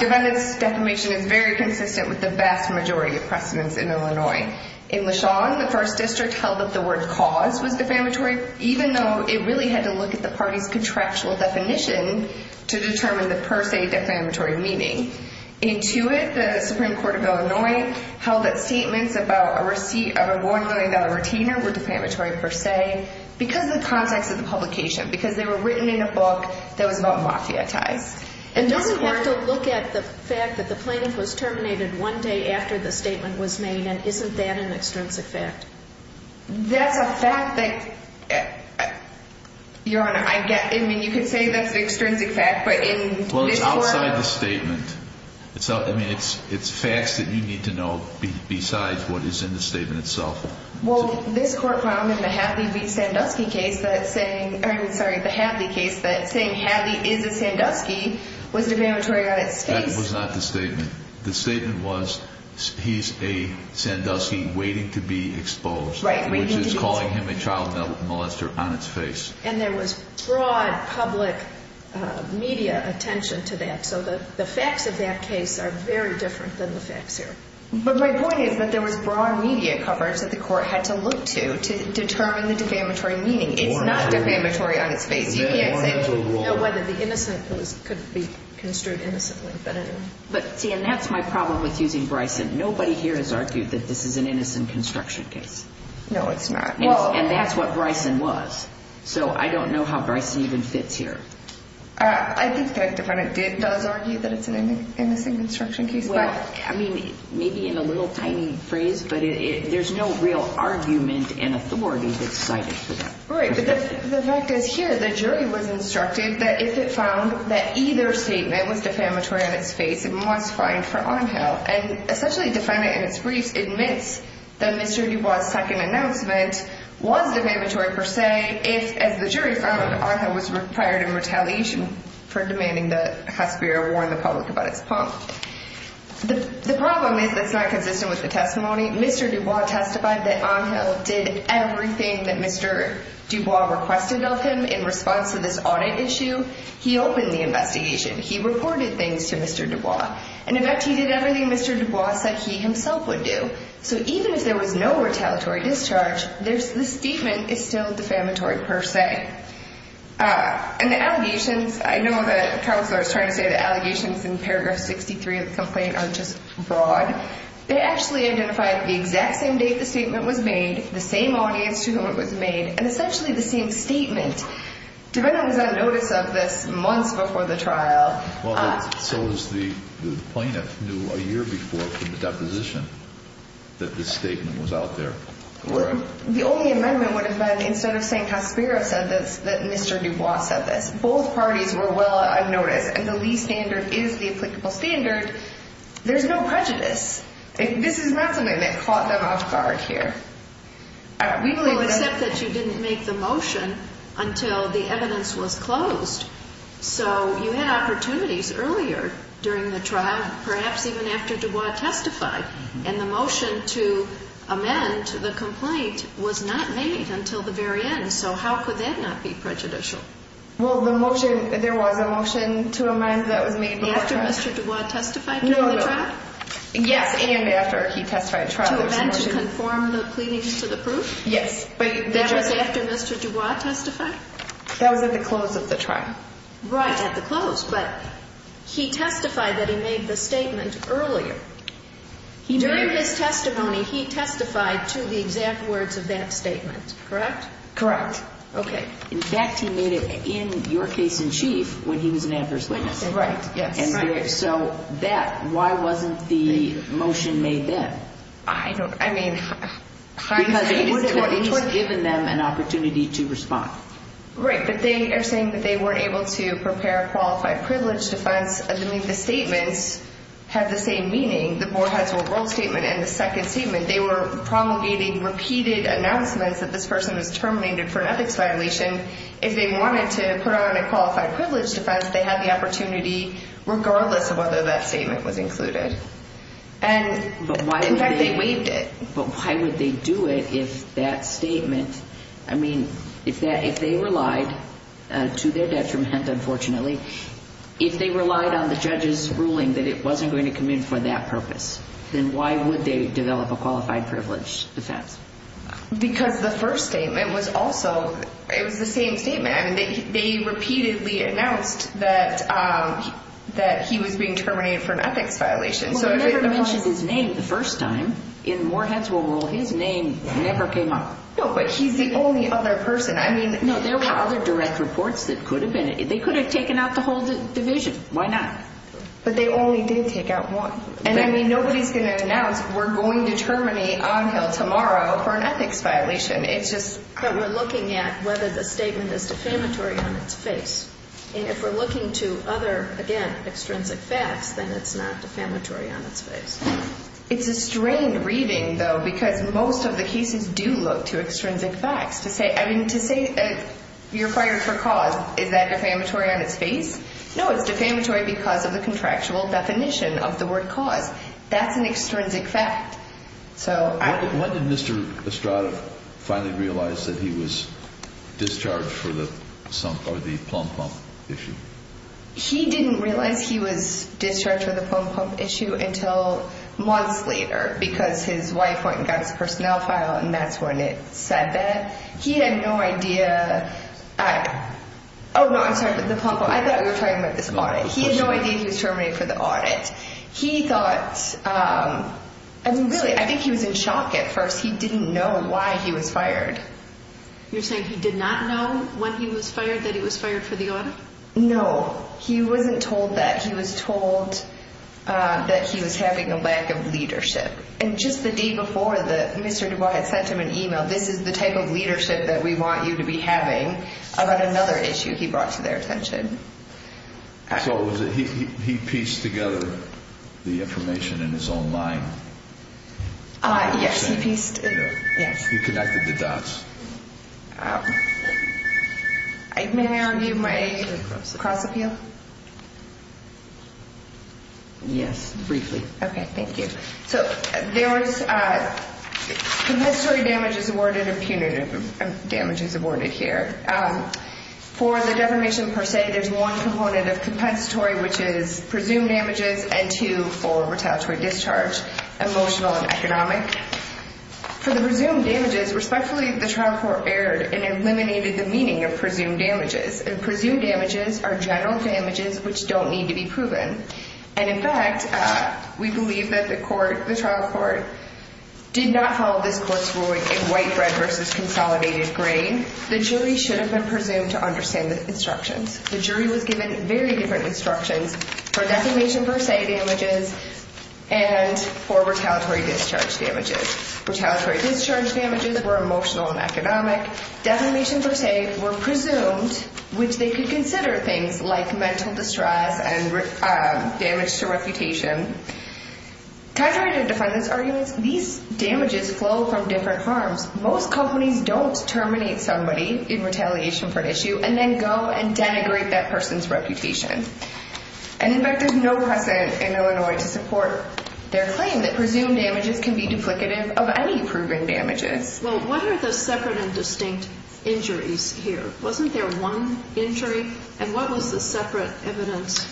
Defendant's defamation is very consistent with the vast majority of precedents in Illinois. In LeSean, the 1st District held that the word cause was defamatory, even though it really had to look at the party's contractual definition to determine the per se defamatory meaning. In Tuitt, the Supreme Court of Illinois held that statements about a receipt of a 1 million-dollar retainer were defamatory per se because of the context of the publication, because they were written in a book that was non-mafiatized. And don't we also look at the fact that the plaintiff was terminated one day after the statement was made, and isn't that an extrinsic fact? That's a fact that, Your Honor, I get. I mean, you can say that's an extrinsic fact, but in this court – Well, it's outside the statement. So, I mean, it's facts that you need to know besides what is in the statement itself. Well, this court found in the Hadley v. Sandusky case that saying – I'm sorry, the Hadley case, but saying Hadley is a Sandusky was defamatory on its statement. That was not the statement. The statement was he's a Sandusky waiting to be exposed, which is calling him a child molester on his face. And there was broad public media attention to that, so the facts of that case are very different than the facts here. But my point is that there was broad media coverage that the court had to look to to determine the defamatory meaning. It's not defamatory on its statement. It wasn't. It was innocent, so it couldn't be construed as something definitive. But, see, and that's my problem with using Bryson. Nobody here has argued that this is an innocent construction case. No, it's not. And that's what Bryson was. So I don't know how Bryson even fits here. I think the defendant did argue that it's an innocent construction case. Well, I mean, maybe in a little tiny phrase, but there's no real argument in authority that's cited for that. Right, but the fact is here the jury was instructed that if it found that either statement was defamatory on its statement, it was fine for on-held. And essentially, the defendant in its brief admits that the jury brought a second announcement, wasn't defamatory per se, if, as the jury found, that on-held was required in retaliation for demanding that Hasbiro warn the public about its funds. The problem is that's not consistent with the testimony. Mr. Dubois testified that on-held did everything that Mr. Dubois requested of him in response to this audit issue. He opened the investigation. He reported things to Mr. Dubois. And, in fact, he did everything Mr. Dubois said he himself would do. So even if there was no retaliatory discharge, the statement is still defamatory per se. And the allegations, I know that the counsel is trying to say that allegations in paragraph 63 of the complaint aren't just broad. They actually identified the exact same date the statement was made, the same audience to whom it was made, and essentially the same statement. The defendant got notice of this months before the trial. So the plaintiff knew a year before from the deposition that this statement was out there. Right. The only amendment would have been instead of saying Hasbiro said this, that Mr. Dubois said this. Both parties were well unnoticed. And the lead standard is the applicable standard. There's no prejudice. This is not something that caught them off guard here. Except that you didn't make the motion until the evidence was closed. So you had opportunities earlier during the trial, perhaps even after Dubois testified. And the motion to amend the complaint was not made until the very end. So how could that not be prejudicial? Well, the motion, there was a motion to amend that was made before trial. After Mr. Dubois testified during the trial? No, no. Yes, and after he testified at trial. To eventually conform the claim to the proof? Yes. That was after Mr. Dubois testified? That was at the close of the trial. Right, at the close. But he testified that he made the statement earlier. During his testimony, he testified to the exact words of that statement. Correct? Correct. Okay. In fact, he made it in your case in chief when he was an adversary. Right. And so that, why wasn't the motion made then? I don't, I mean. Because he had given them an opportunity to respond. Right, but they are saying that they weren't able to prepare a qualified privilege defense assuming the statement had the same meaning. Dubois has a role statement and a second statement. They were promulgating repeated announcements that this person was terminated for an ethics violation. If they wanted to put on a qualified privilege defense, they had the opportunity regardless of whether that statement was included. And in fact, they waived it. But why would they do it if that statement, I mean, if they relied, to their detriment unfortunately, if they relied on the judge's ruling that it wasn't going to commit for that purpose, then why would they develop a qualified privilege defense? Because the first statement was also, it was the same statement. They repeatedly announced that he was being terminated for an ethics violation. He never mentioned his name the first time. In Morehead's role, his name never came up. No, but he's the only other person. I mean, there were other direct reports that could have been. They could have taken out the whole division. Why not? But they only did take out one. And I mean, nobody's going to announce we're going to terminate Angel tomorrow for an ethics violation. It's just that we're looking at whether the statement is discriminatory or not. And if we're looking to other, again, extrinsic facts, then it's not defamatory on its face. It's a strange reading, though, because most of the cases do look to extrinsic facts. I mean, to say that you're fired for cause, is that defamatory on its face? No, it's defamatory because of the contractual definition of the word cause. That's an extrinsic fact. When did Mr. Estrada finally realize that he was discharged for the plump-pump issue? He didn't realize he was discharged for the plump-pump issue until months later because his wife went and got his personnel file, and that's when it said that. He had no idea. Oh, no, I'm sorry. The plump-pump. I thought you were talking about this audit. He had no idea he was terminated for the audit. He thought, I mean, really, I think he was in shock at first. He didn't know why he was fired. You're saying he did not know when he was fired that he was fired for the audit? No, he wasn't told that. He was told that he was having a lack of leadership. And just the day before, Mr. DuBois had sent him an email, this is the type of leadership that we want you to be having, about another issue he brought to their attention. So he pieced together the information in his own mind? Yes, he pieced it together, yes. He connected the dots. May I read my age across with you? Yes, briefly. Okay, thank you. So there was commensurate damages awarded or punitive damages awarded here. For the defamation per se, there's one component of compensatory, which is presumed damages and two for retaliatory discharge, emotional and economic. For the presumed damages, respectfully, the trial court erred and eliminated the meaning of presumed damages. And presumed damages are general damages which don't need to be proven. And, in fact, we believe that the trial court did not hold this court's ruling in white bread versus consolidated grain. The jury should have been presumed to understand this instruction. The jury was given very different instructions for defamation per se damages and for retaliatory discharge damages. Retaliatory discharge damages were emotional and economic. Defamation per se were presumed, which they could consider things like mental distress and damage to reputation. Counterargent defendants argued these damages flow from different firms. Most companies don't terminate somebody in retaliation for an issue and then go and denigrate that person's reputation. And, in fact, there's no precedent in Illinois to support their claim that presumed damages can be duplicative of any proven damages. Well, what are the separate and distinct injuries here? Wasn't there one injury? And what was the separate evidence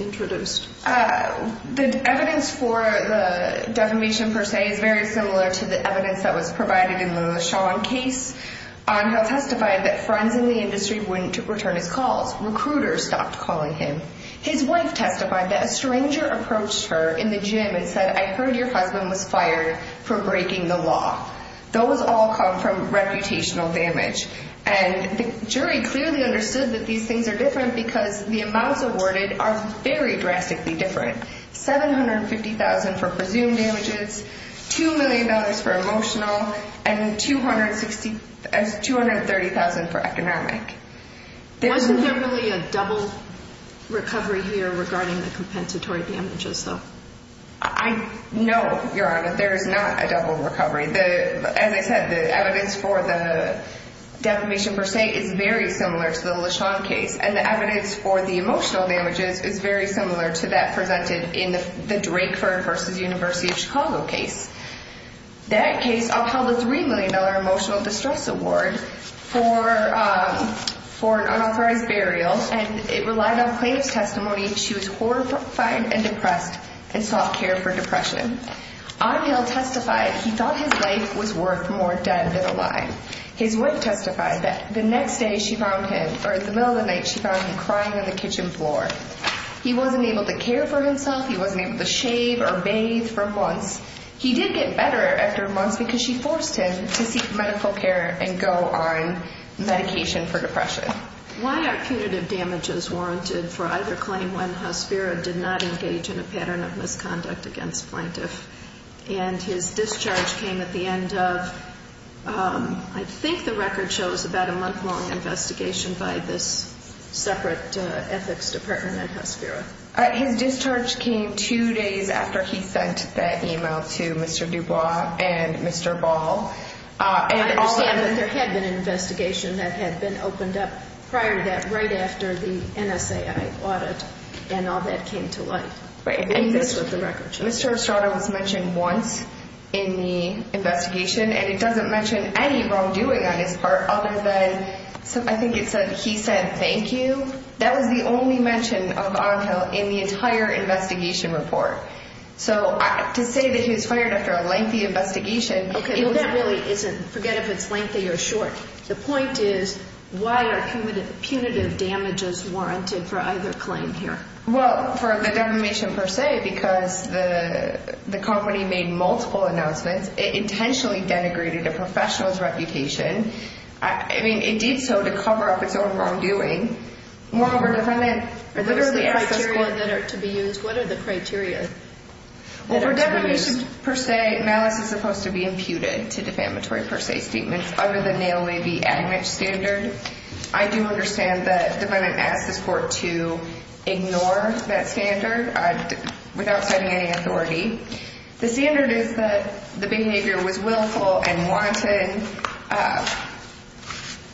introduced? The evidence for the defamation per se is very similar to the evidence that was provided in the LeSean case. He testified that friends in the industry wouldn't return his calls. Recruiters stopped calling him. His wife testified that a stranger approached her in the gym and said, I heard your husband was fired for breaking the law. Those all come from reputational damage. And the jury clearly understood that these things are different because the amounts awarded are very drastically different. $750,000 for presumed damages, $2 million for emotional, and $230,000 for economic. Isn't there really a double recovery here regarding the compensatory damages? No, Your Honor. There is not a double recovery. As I said, the evidence for the defamation per se is very similar to the LeSean case. And the evidence for the emotional damages is very similar to that presented in the Drakeford v. University of Chicago case. That case upheld a $3 million emotional distress award for an unauthorized burial, and it relied on faith testimony. She was horrified and depressed and sought care for depression. Othell testified he thought his life was worth more dead than alive. His wife testified that the next day she found him, or in the middle of the night, she found him crying on the kitchen floor. He wasn't able to care for himself. He wasn't able to shave or bathe for months. He did get better after a month because she forced him to seek medical care and go on medication for depression. Why are punitive damages warranted for either claim when the husband did not engage in a pattern of misconduct against plaintiffs And his discharge came at the end of, I think the record shows, about a month-long investigation by this separate ethics department at Health Bureau. His discharge came two days after he sent that email to Mr. DuBois and Mr. Ball. And there had been an investigation that had been opened up prior to that, right after the NSA audit, and all that came to light. And this was the record. Mr. Othell was mentioned once in the investigation, and it doesn't mention any wrongdoing on his part, other than I think it said he said, thank you. That was the only mention of Othell in the entire investigation report. So to say that he was fired after a lengthy investigation, Okay, forget if it's lengthy or short. The point is, why are punitive damages warranted for either claim here? Well, for the defamation per se, because the company made multiple announcements. It intentionally denigrated the professional's reputation. I mean, it did so to cover up its own wrongdoing. Moreover, defendants... What are the criteria that are to be used? What are the criteria that are to be used? Well, for defamation per se, malice is supposed to be imputed to defamatory per se statements, other than they only be adding that standard. I do understand that defendants ask the court to ignore that standard without citing any authority. The standard is that the behavior was willful and wanted.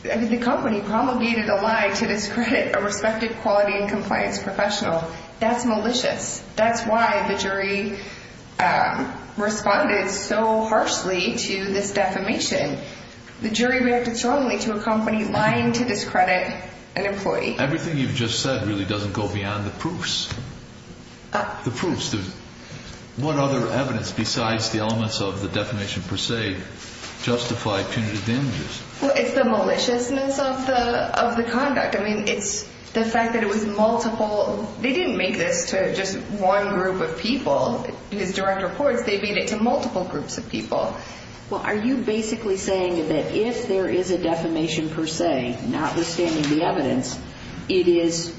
The company promulgated a lie to discredit a respected quality and compliance professional. That's malicious. That's why the jury responded so harshly to this defamation. The jury reacted strongly to a company lying to discredit an employee. Everything you've just said really doesn't go beyond the proofs. The proofs. What other evidence besides the elements of the defamation per se justify punitive damages? Well, it's the maliciousness of the conduct. I mean, it's the fact that it was multiple... They didn't make it to just one group of people in the direct report. They made it to multiple groups of people. Well, are you basically saying that if there is a defamation per se, notwithstanding the evidence, it is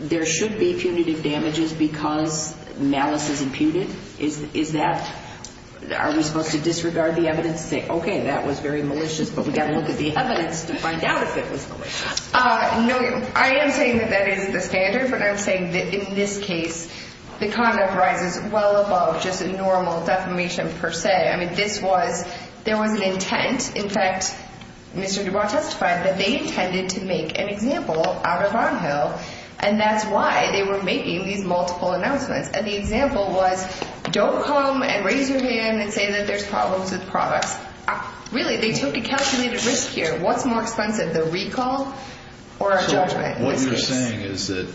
there should be punitive damages because malice is imputed? Is that... Are you going to disregard the evidence and say, okay, that was very malicious, but we've got to look at the evidence to find out if it was malicious? No. I am saying that that is the standard, but I'm saying that in this case, the conduct ran well above just a normal defamation per se. I mean, this was... There was an intent. In fact, Mr. DuBois testified that they intended to make an example out of on-hill, and that's why they were making these multiple announcements. And the example was, don't come and raise your hand and say that there's problems with the product. Really, they took a calculated risk here. What's more expensive, a recall or a judgment? What you're saying is that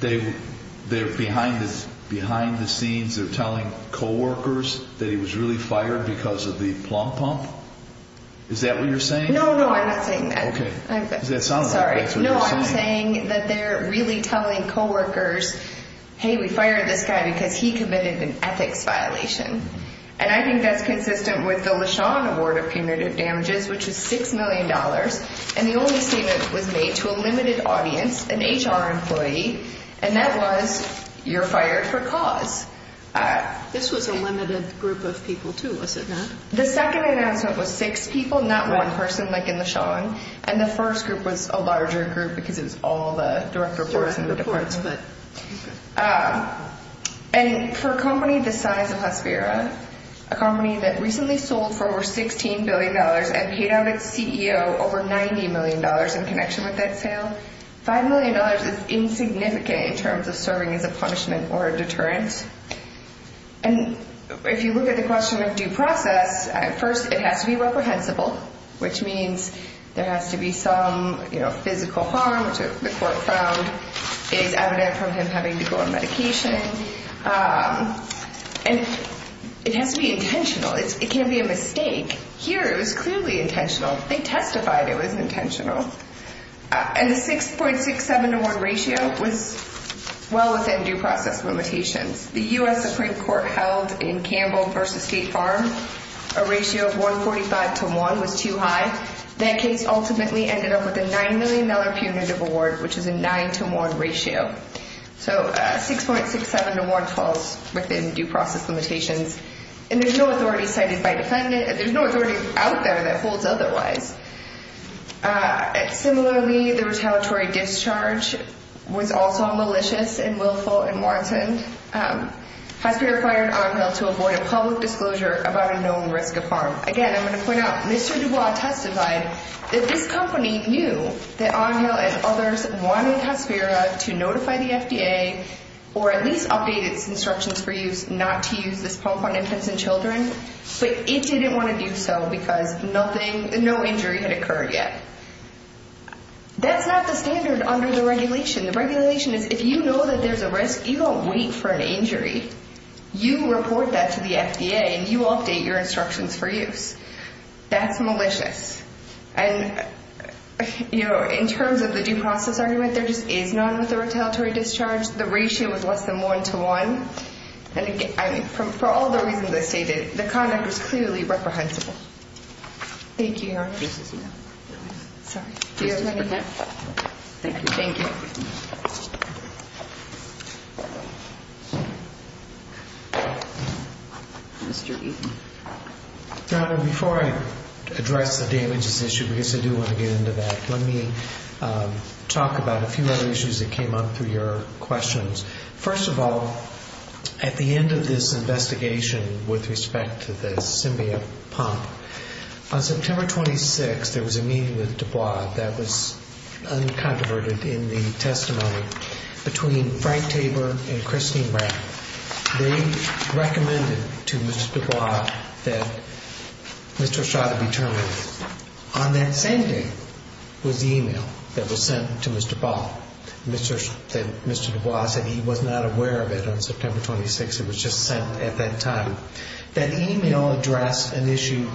they're behind the scenes, they're telling coworkers that he was really fired because of the plum pump? Is that what you're saying? No, no, I'm not saying that. Okay. Sorry. No, I'm saying that they're really telling coworkers, hey, we fired this guy because he committed an ethics violation. And I think that's consistent with the LeSean Award of punitive damages, which is $6 million. And the only statement was made to a limited audience, an HR employee, and that was, you're fired for cause. This was a limited group of people too, was it not? The second item was a group of six people, not one person like in LeSean, and the first group was a larger group because it was all the direct reports and reports. And for a company the size of Hasbira, a company that recently sold for over $16 billion and paid out its CEO over $90 million in connection with that sale, $5 million is insignificant in terms of serving as a punishment or a deterrent. And if you look at the question of due process, at first it has to be reprehensible, which means there has to be some physical harm, which the court found is evident from him having to go on medication. And it has to be intentional. It can't be a mistake. Here it was clearly intentional. They testified it was intentional. And the 6.67 to 1 ratio was well within due process limitations. The U.S. Supreme Court held in Campbell v. State Farm, a ratio of 145 to 1 was too high. That case ultimately ended up with a $9 million punitive award, which is a 9 to 1 ratio. So 6.67 to 1 falls within due process limitations. And there's no authority cited by the Senate. There's no authority out there that holds otherwise. Similarly, the retaliatory discharge was also malicious and willful and warranted Hasbira fired Onhill to avoid a public disclosure about a known risk to farm. Again, I'm going to point out, Mr. DuBois testified that this company knew that Onhill and others wanted Hasbira to notify the FDA or at least update instructions for youth not to use this phone point instance in children. But he didn't want to do so because no injury had occurred yet. That's not the standard under the regulation. The regulation is if you know that there's a risk, you don't wait for an injury. You report that to the FDA. You update your instructions for youth. That's malicious. And, you know, in terms of the due process argument, there is no unauthorized retaliatory discharge. The ratio is less than 1 to 1. And for all the reasons I stated, the conduct is clearly reprehensible. Thank you. Do you have anything else? Thank you. Before I address the damages issue, because I do want to get into that, let me talk about a few other issues that came up through your questions. First of all, at the end of this investigation with respect to the Symbia pump, on September 26th, there was a meeting with DuBois that was uncontroverted in the testimony between Frank Tabor and Christine Brown. They recommended to Mr. DuBois that Mr. Ashado be terminated. On that same day was the e-mail that was sent to Mr. DuBois that he was not aware of it on September 26th. It was just at that time. That e-mail addressed an issue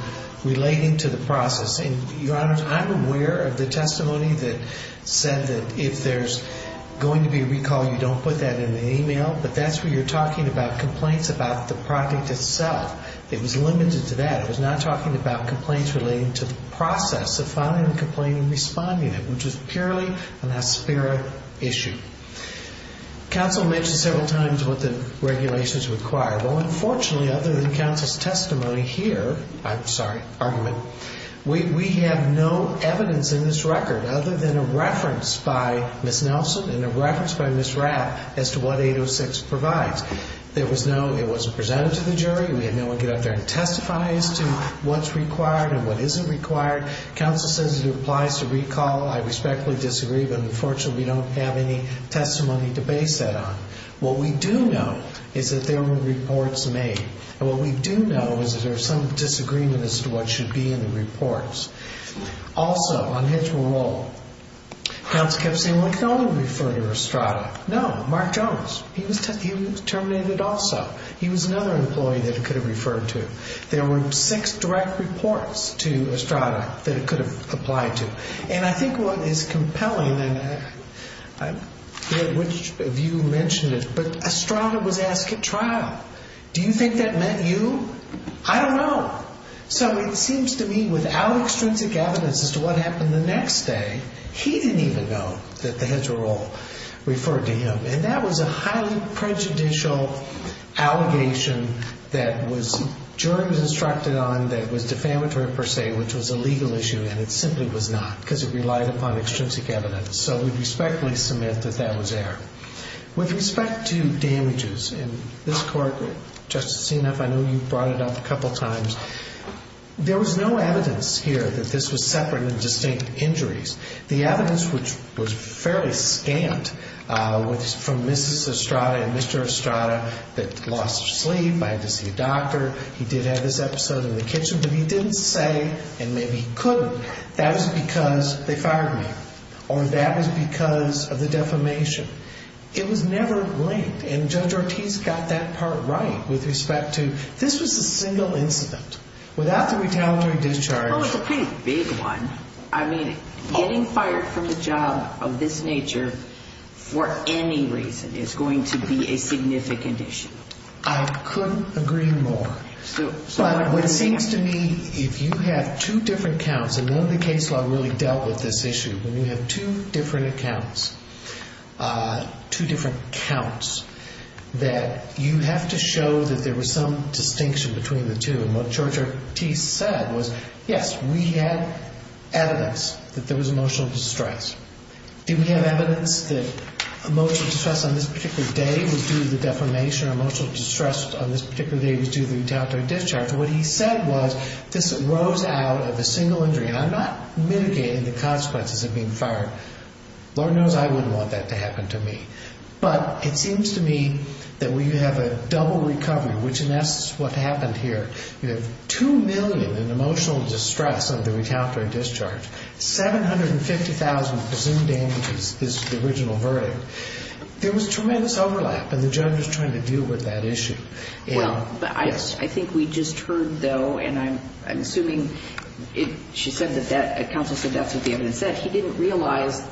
relating to the process. Your Honor, I'm aware of the testimony that said that if there's going to be a recall, you don't put that in the e-mail, but that's when you're talking about complaints about the product itself. It was limited to that. It was not talking about complaints relating to the process of filing the complaint and responding to it, which was purely an aspirin issue. Counsel mentioned several times what the regulations require. Well, unfortunately, other than counsel's testimony here, I'm sorry, argument, we have no evidence in this record other than a reference by Ms. Nelson and a reference by Ms. Rapp as to what 806 provides. There was no, it wasn't presented to the jury. We have no evidence to anticipate as to what's required and what isn't required. Counsel says it applies to recall. I respectfully disagree, but unfortunately we don't have any testimony to base that on. What we do know is that there were reports made. What we do know is that there's some disagreements as to what should be in the reports. Also, on his parole, counsel kept saying, well, we can only refer to Estrada. No, Mark Jones, he was terminated also. He was another employee that we could have referred to. There were six direct reports to Estrada that it could have applied to. And I think what is compelling, and I'm not sure which of you mentioned it, but Estrada was asked at trial, do you think that meant you? I don't know. So it seems to me without extrinsic evidence as to what happened the next day, he didn't even know that the heads of parole referred to him, and that was a highly prejudicial allegation that was jury instructed on that was defamatory per se, which was a legal issue, and it simply was not because it relied upon extrinsic evidence. So we respectfully submit that that was error. With respect to damages in this court, Justice Seneff, I know you brought it up a couple times. There was no evidence here that this was separate and distinct injuries. The evidence was fairly scant. It was from Mrs. Estrada and Mr. Estrada that he lost his sleep, I had to see a doctor, he did have this episode in the kitchen, but he didn't say, and maybe he could, that it was because they fired him or that it was because of the defamation. It was never linked, and Judge Ortiz got that part right with respect to this was the single incident. Without the retaliatory discharge. Well, it's a pretty big one. I mean, getting fired from a job of this nature for any reason is going to be a significant issue. I couldn't agree more. But what it seems to me, if you have two different counts, and one of the cases I really dealt with this issue, when you have two different accounts, two different counts, that you have to show that there was some distinction between the two. And what Judge Ortiz said was, yes, we had evidence that there was emotional distress. Did we have evidence that emotional distress on this particular day was due to defamation or emotional distress on this particular day was due to retaliatory discharge? And what he said was, this arose out of a single injury, and I'm not mitigating the consequences of being fired. Lord knows I wouldn't want that to happen to me. But it seems to me that we have a double recovery, which is what happened here. Two million in emotional distress on the retaliatory discharge. 750,000 for whom damages is the original verdict. There was tremendous overlap when the judge was trying to deal with that issue. Well, I think we just heard, though, and I'm assuming she said that counsel said that to the evidence. She didn't realize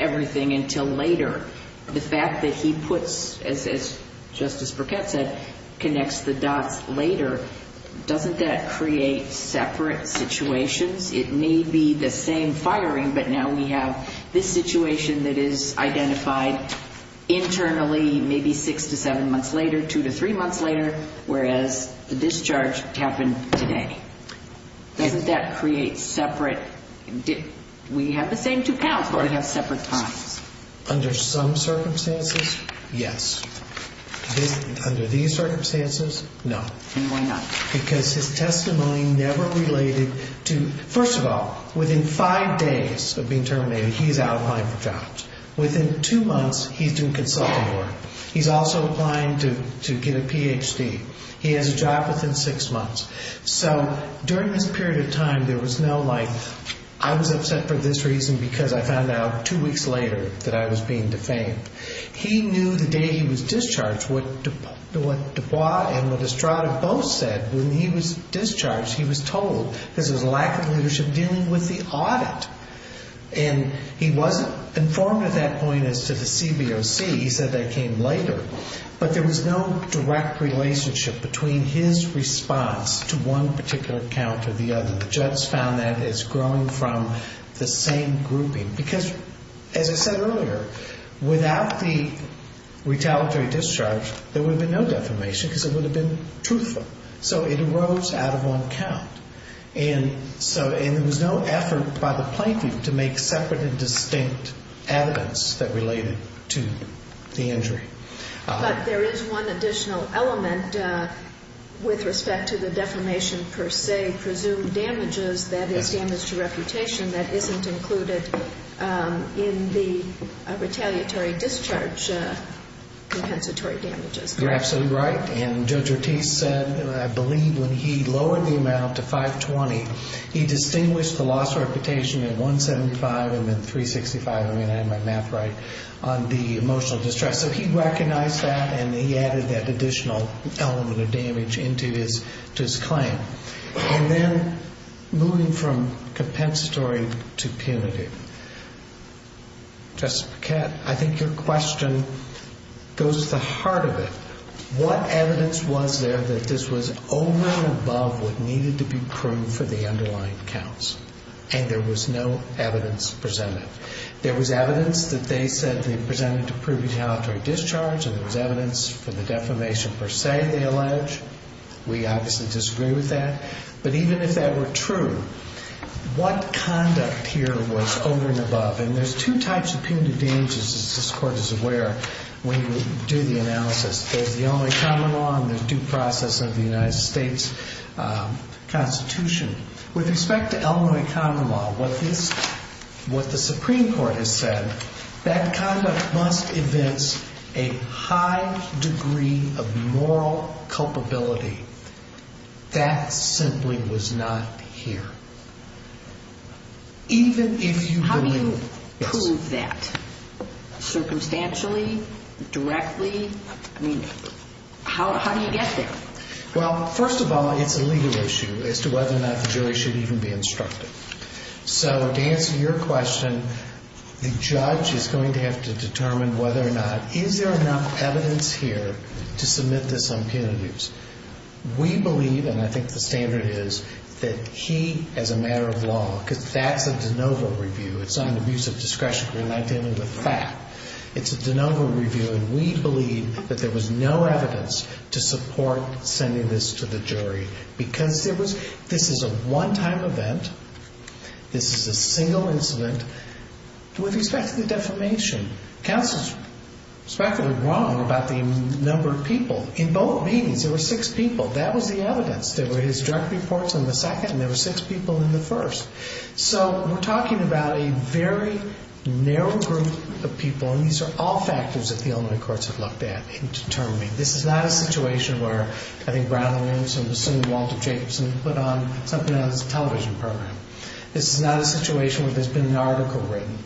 everything until later. The fact that he puts, as Justice Burkett said, connects the dots later, doesn't that create separate situations? It may be the same firing, but now we have this situation that is identified internally, maybe six to seven months later, two to three months later, whereas the discharge happened today. Doesn't that create separate? We have the same two counts, but we have separate times. Under some circumstances, yes. Under these circumstances, no. Why not? Because his testimony never related to – first of all, within five days of being terminated, he is out on jobs. Within two months, he's doing consulting work. He's also applying to get a PhD. He has a job within six months. So during this period of time, there was no, like, I was upset for this reason because I found out two weeks later that I was being defamed. He knew the day he was discharged what Dubois and Estrada both said. When he was discharged, he was told that his lack of leadership came with the audit. And he wasn't informed at that point as to the CBOC. He said that came later. But there was no direct relationship between his response to one particular count or the other. The judge found that as growing from the same grouping. Because, as I said earlier, without the retaliatory discharge, there would have been no defamation because it would have been truthful. So it arose out of one count. And so there was no effort by the plaintiff to make separate and distinct evidence that related to the injury. But there is one additional element with respect to the defamation per se. Presumed damages that have damaged reputation that isn't included in the retaliatory discharge compensatory damages. You're absolutely right. And Judge Ortiz said, and I believe when he lowered the amount to 520, he distinguished the loss of reputation in 175 and in 365, and I have my math right, on the emotional distress. So he recognized that and he added that additional element of damage into his claim. And then moving from compensatory to punitive. Justice Paquette, I think your question goes to the heart of it. What evidence was there that this was only involved with needed to be proved for the underlying counts? And there was no evidence presented. There was evidence that they said they presented to prove retaliatory discharge. There was evidence for the defamation per se, they alleged. We obviously disagree with that. But even if that were true, what conduct here was over and above? And there's two types of punitive damages, as this Court is aware, when you do the analysis. There's the Illinois Common Law and the due process of the United States Constitution. With respect to Illinois Common Law, what the Supreme Court has said, that conduct must evince a high degree of moral culpability. That simply was not here. Even if you believe that. How do you prove that? Circumstantially? Directly? I mean, how do you get there? Well, first of all, I think the legal issue as to whether or not the jury should even be instructed. So, to answer your question, the judge is going to have to determine whether or not, is there enough evidence here to submit this on penalties? We believe, and I think the standard is, that he, as a matter of law, because that's a de novo review, it's on abuse of discretion. We're not dealing with that. We're not sending this to the jury. Because this is a one-time event. This is a single incident. It was a second defamation. Counsel is practically wrong about the number of people. In both meetings, there were six people. That was the evidence. There were his direct reports in the second, and there were six people in the first. So, we're talking about a very narrow group of people, and these are all factors that the Illinois courts have looked at in determining. This is not a situation where, having Brian Williamson assume Walter Jacobson, put something on this television program. This is not a situation where there's been an article written.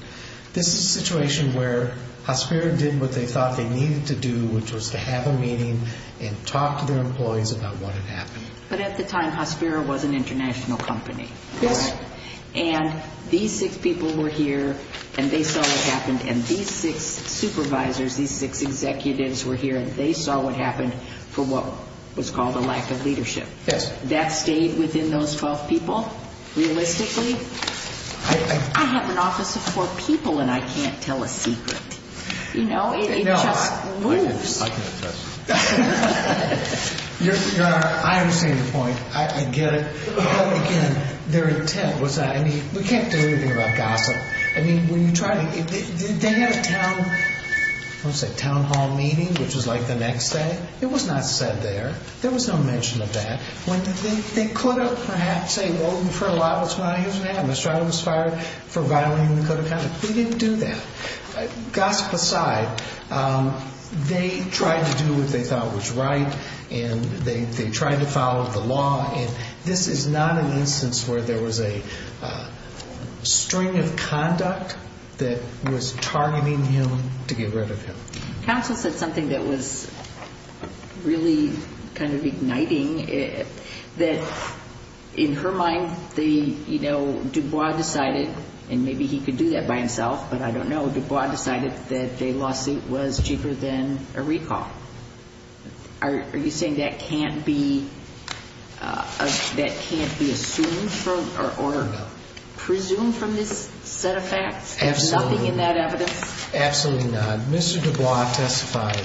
This is a situation where Hospiro did what they thought they needed to do, which was to have a meeting and talk to their employees about what had happened. But at the time, Hospiro was an international company. Yes. And these six people were here, and they saw what happened, and these six supervisors, these six executives were here, and they saw what happened for what was called a lack of leadership. Yes. That stayed within those 12 people? Realistically? I have an office of four people, and I can't tell a secret. You know, it just moves. I understand the point. I get it. Their intent was that, I mean, we can't say anything about gossip. I mean, they had a town hall meeting, which was like the next day. It was not said there. There was no mention of that. They could have perhaps said, well, we've heard a lot about what's going on here today, and the shot was fired for violating the code of conduct. They didn't do that. Gossip aside, they tried to do what they thought was right, and they tried to follow the law, and this is not an instance where there was a string of conduct that was targeting him to get rid of him. Counsel said something that was really kind of igniting, that in her mind, you know, Dubois decided, and maybe he could do that by himself, but I don't know, Dubois decided that a lawsuit was cheaper than a recall. Are you saying that can't be assumed or presumed from this set of facts? There's nothing in that evidence? Absolutely not. Mr. Dubois testified,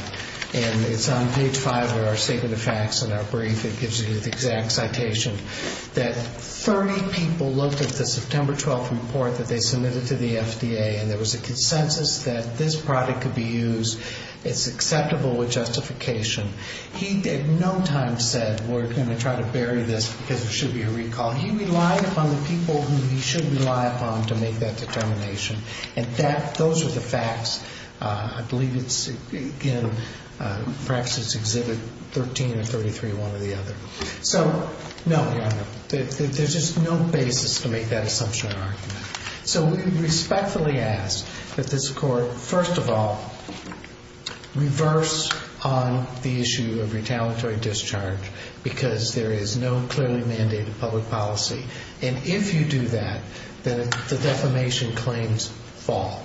and it's on page five of our statement of facts in our brief. It gives you the exact citation. That 30 people looked at the September 12th report that they submitted to the SBA, and there was a consensus that this product could be used. It's acceptable with justification. He at no time said we're going to try to bury this because it should be a recall. He relied upon the people who he should rely upon to make that determination, and those are the facts. I believe it's, again, perhaps it's exhibited 13 and 33, one or the other. So, no, Your Honor, there's just no basis to make that assumption. So we respectfully ask that this Court, first of all, reverse on the issue of retaliatory discharge because there is no clearly mandated public policy, and if you do that, then the defamation claims fall.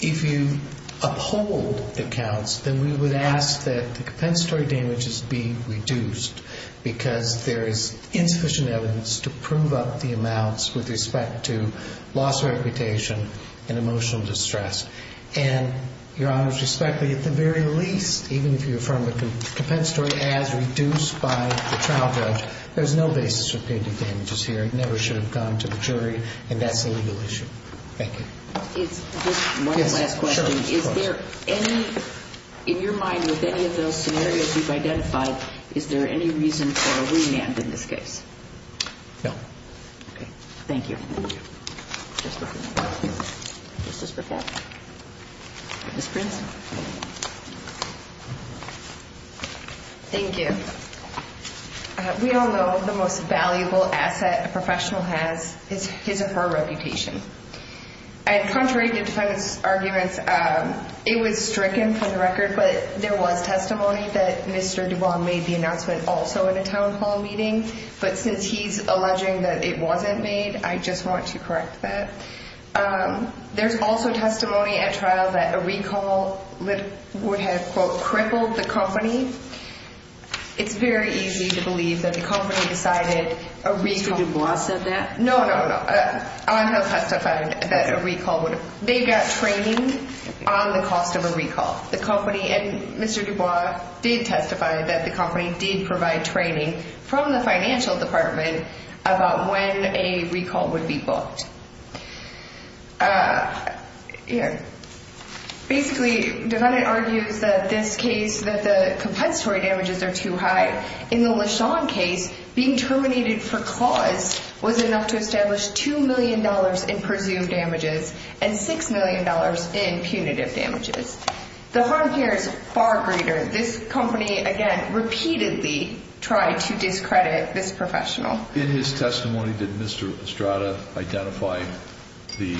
If you uphold the counts, then we would ask that the compensatory damages be reduced because there is insufficient evidence to prove up the amounts with respect to loss of reputation and emotional distress. And, Your Honor, respectfully, at the very least, even if you affirm that the compensatory has been reduced by the trial judge, there's no basis for the damages here. It never should have gone to the jury, and that's a legal issue. Thank you. One last question. Is there any, in your mind, with any of those scenarios you've identified, is there any reason for a remand in this case? No. Okay. Thank you. Thank you. We all know the most valuable asset a professional has is his or her reputation. Contrary to some arguments, it would strip him from the record, but there was testimony that Mr. Duvall made the announcement also at a council meeting, but since he's alleging that it wasn't made, I just want to correct that. There's also testimony at trial that a recall would have, quote, crippled the company. It's very easy to believe that the company decided a recall. Did Duvall say that? No, no, no. I want to testify that a recall would have. They got training on the cost of a recall. The company, and Mr. Duvall did testify that the company did provide training from the financial department about when a recall would be booked. Basically, the defendant argued that this case, that the compensatory damages are too high. In the LeSean case, being terminated for cause was enough to establish $2 million in presumed damages and $6 million in punitive damages. The harm here is far greater. This company, again, repeatedly tried to discredit this professional. In his testimony, did Mr. Estrada identify the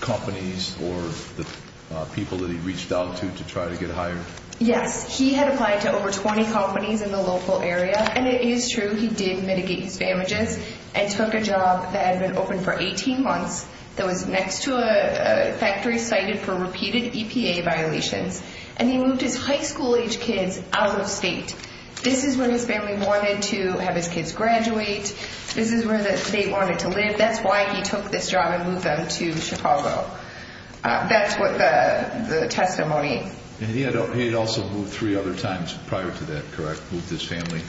companies or the people that he reached out to to try to get hired? Yes. He had applied to over 20 companies in the local area, and it is true he did mitigate the damages and took a job that had been open for 18 months. It was next to a factory cited for repeated EPA violations, and he moved his high school-age kids out of state. This is where his family wanted to have his kids graduate. This is where the state wanted to live. That's why he took this job and moved them to Chicago. That's what the testimony. And he had also moved three other times prior to that, correct? Moved his family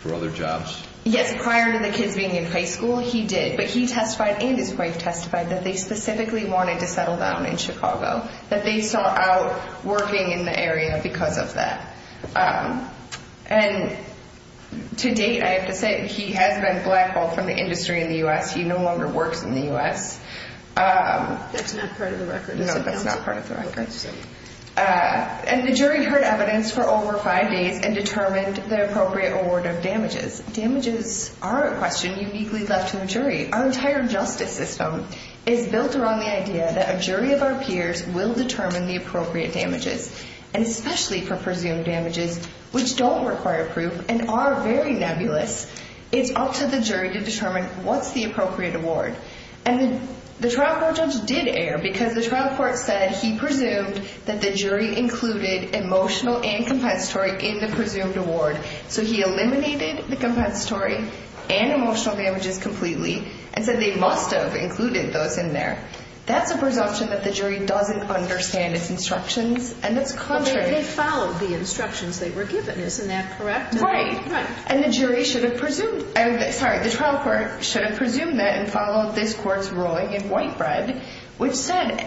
for other jobs? Yes, prior to the kids being in high school, he did. But he testified and his wife testified that they specifically wanted to settle down in Chicago, that they saw out working in the area because of that. And to date, I have to say, he has been blackballed from the industry in the U.S. He no longer works in the U.S. That's not part of the record. No, that's not part of the record. And the jury heard evidence for over five days and determined the appropriate award of damages. Damages are a question uniquely left to a jury. Our entire justice system is built around the idea that a jury of our peers will determine the appropriate damages. And especially for presumed damages, which don't require proof and are very nebulous, it's up to the jury to determine what's the appropriate award. And the trial court judge did err because the trial court said he presumed that the jury included emotional and compensatory in the presumed award. So he eliminated the compensatory and emotional damages completely and said they must have included those in there. That's a presumption that the jury doesn't understand its instructions and its culture. But they followed the instructions that were given. Isn't that correct? Right. Right. And the jury should have presumed. Sorry, the trial court should have presumed that and followed this court's ruling in white bread, which said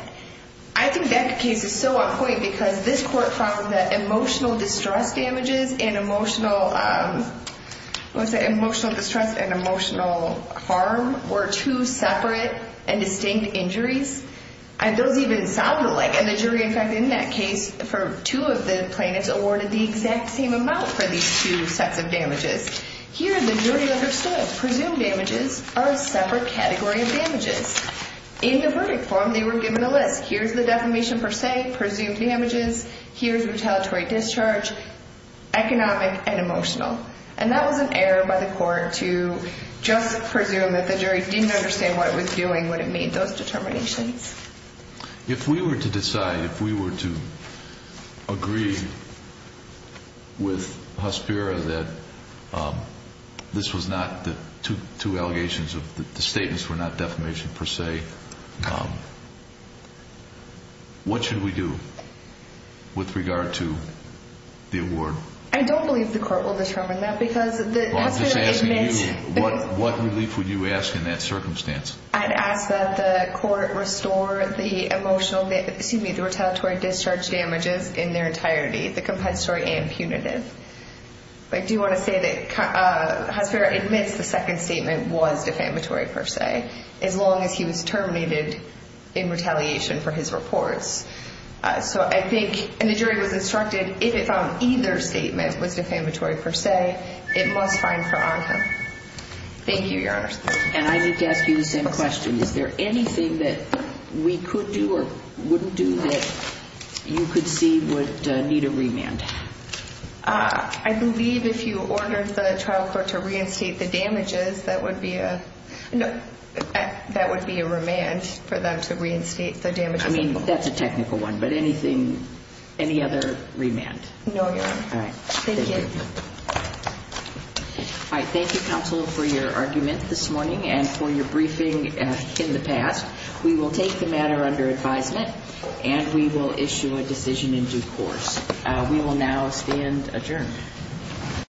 I think that case is still on point because this court found that emotional distress damages and emotional harm were two separate and distinct injuries. I don't even sound alike. And the jury, in fact, in that case, for two of the plaintiffs, awarded the exact same amount for these two sets of damages. Here the jury understood presumed damages are a separate category of damages. In the verdict form they were given a list. Here's the defamation per se, presumed damages. Here's retaliatory discharge, economic, and emotional. And that was an error by the court to just presume that the jury didn't understand what it was doing when it made those determinations. If we were to decide, if we were to agree with Huspera that this was not the two allegations, the statements were not defamation per se, what should we do with regard to the award? I don't believe the court will determine that. I'm just asking you, what relief would you ask in that circumstance? I'd ask that the court restore the emotional, excuse me, the retaliatory discharge damages in their entirety, the compensatory and punitive. But I do want to say that Huspera admits the second statement was defamatory per se, as long as he was terminated in retaliation for his report. So I think, and the jury was instructed, if it found either statement was defamatory per se, it was fine for us. Thank you, Your Honor. And I need to ask you the same question. Is there anything that we could do or wouldn't do that you could see would need a remand? I believe if you ordered the trial court to reinstate the damages, that would be a remand for them to reinstate the damages. I mean, that's a technical one, but anything, any other remand? No, Your Honor. All right. Thank you. All right. Thank you, counsel, for your argument this morning and for your briefing in the past. We will take the matter under advisement and we will issue a decision in due course. We will now stand adjourned.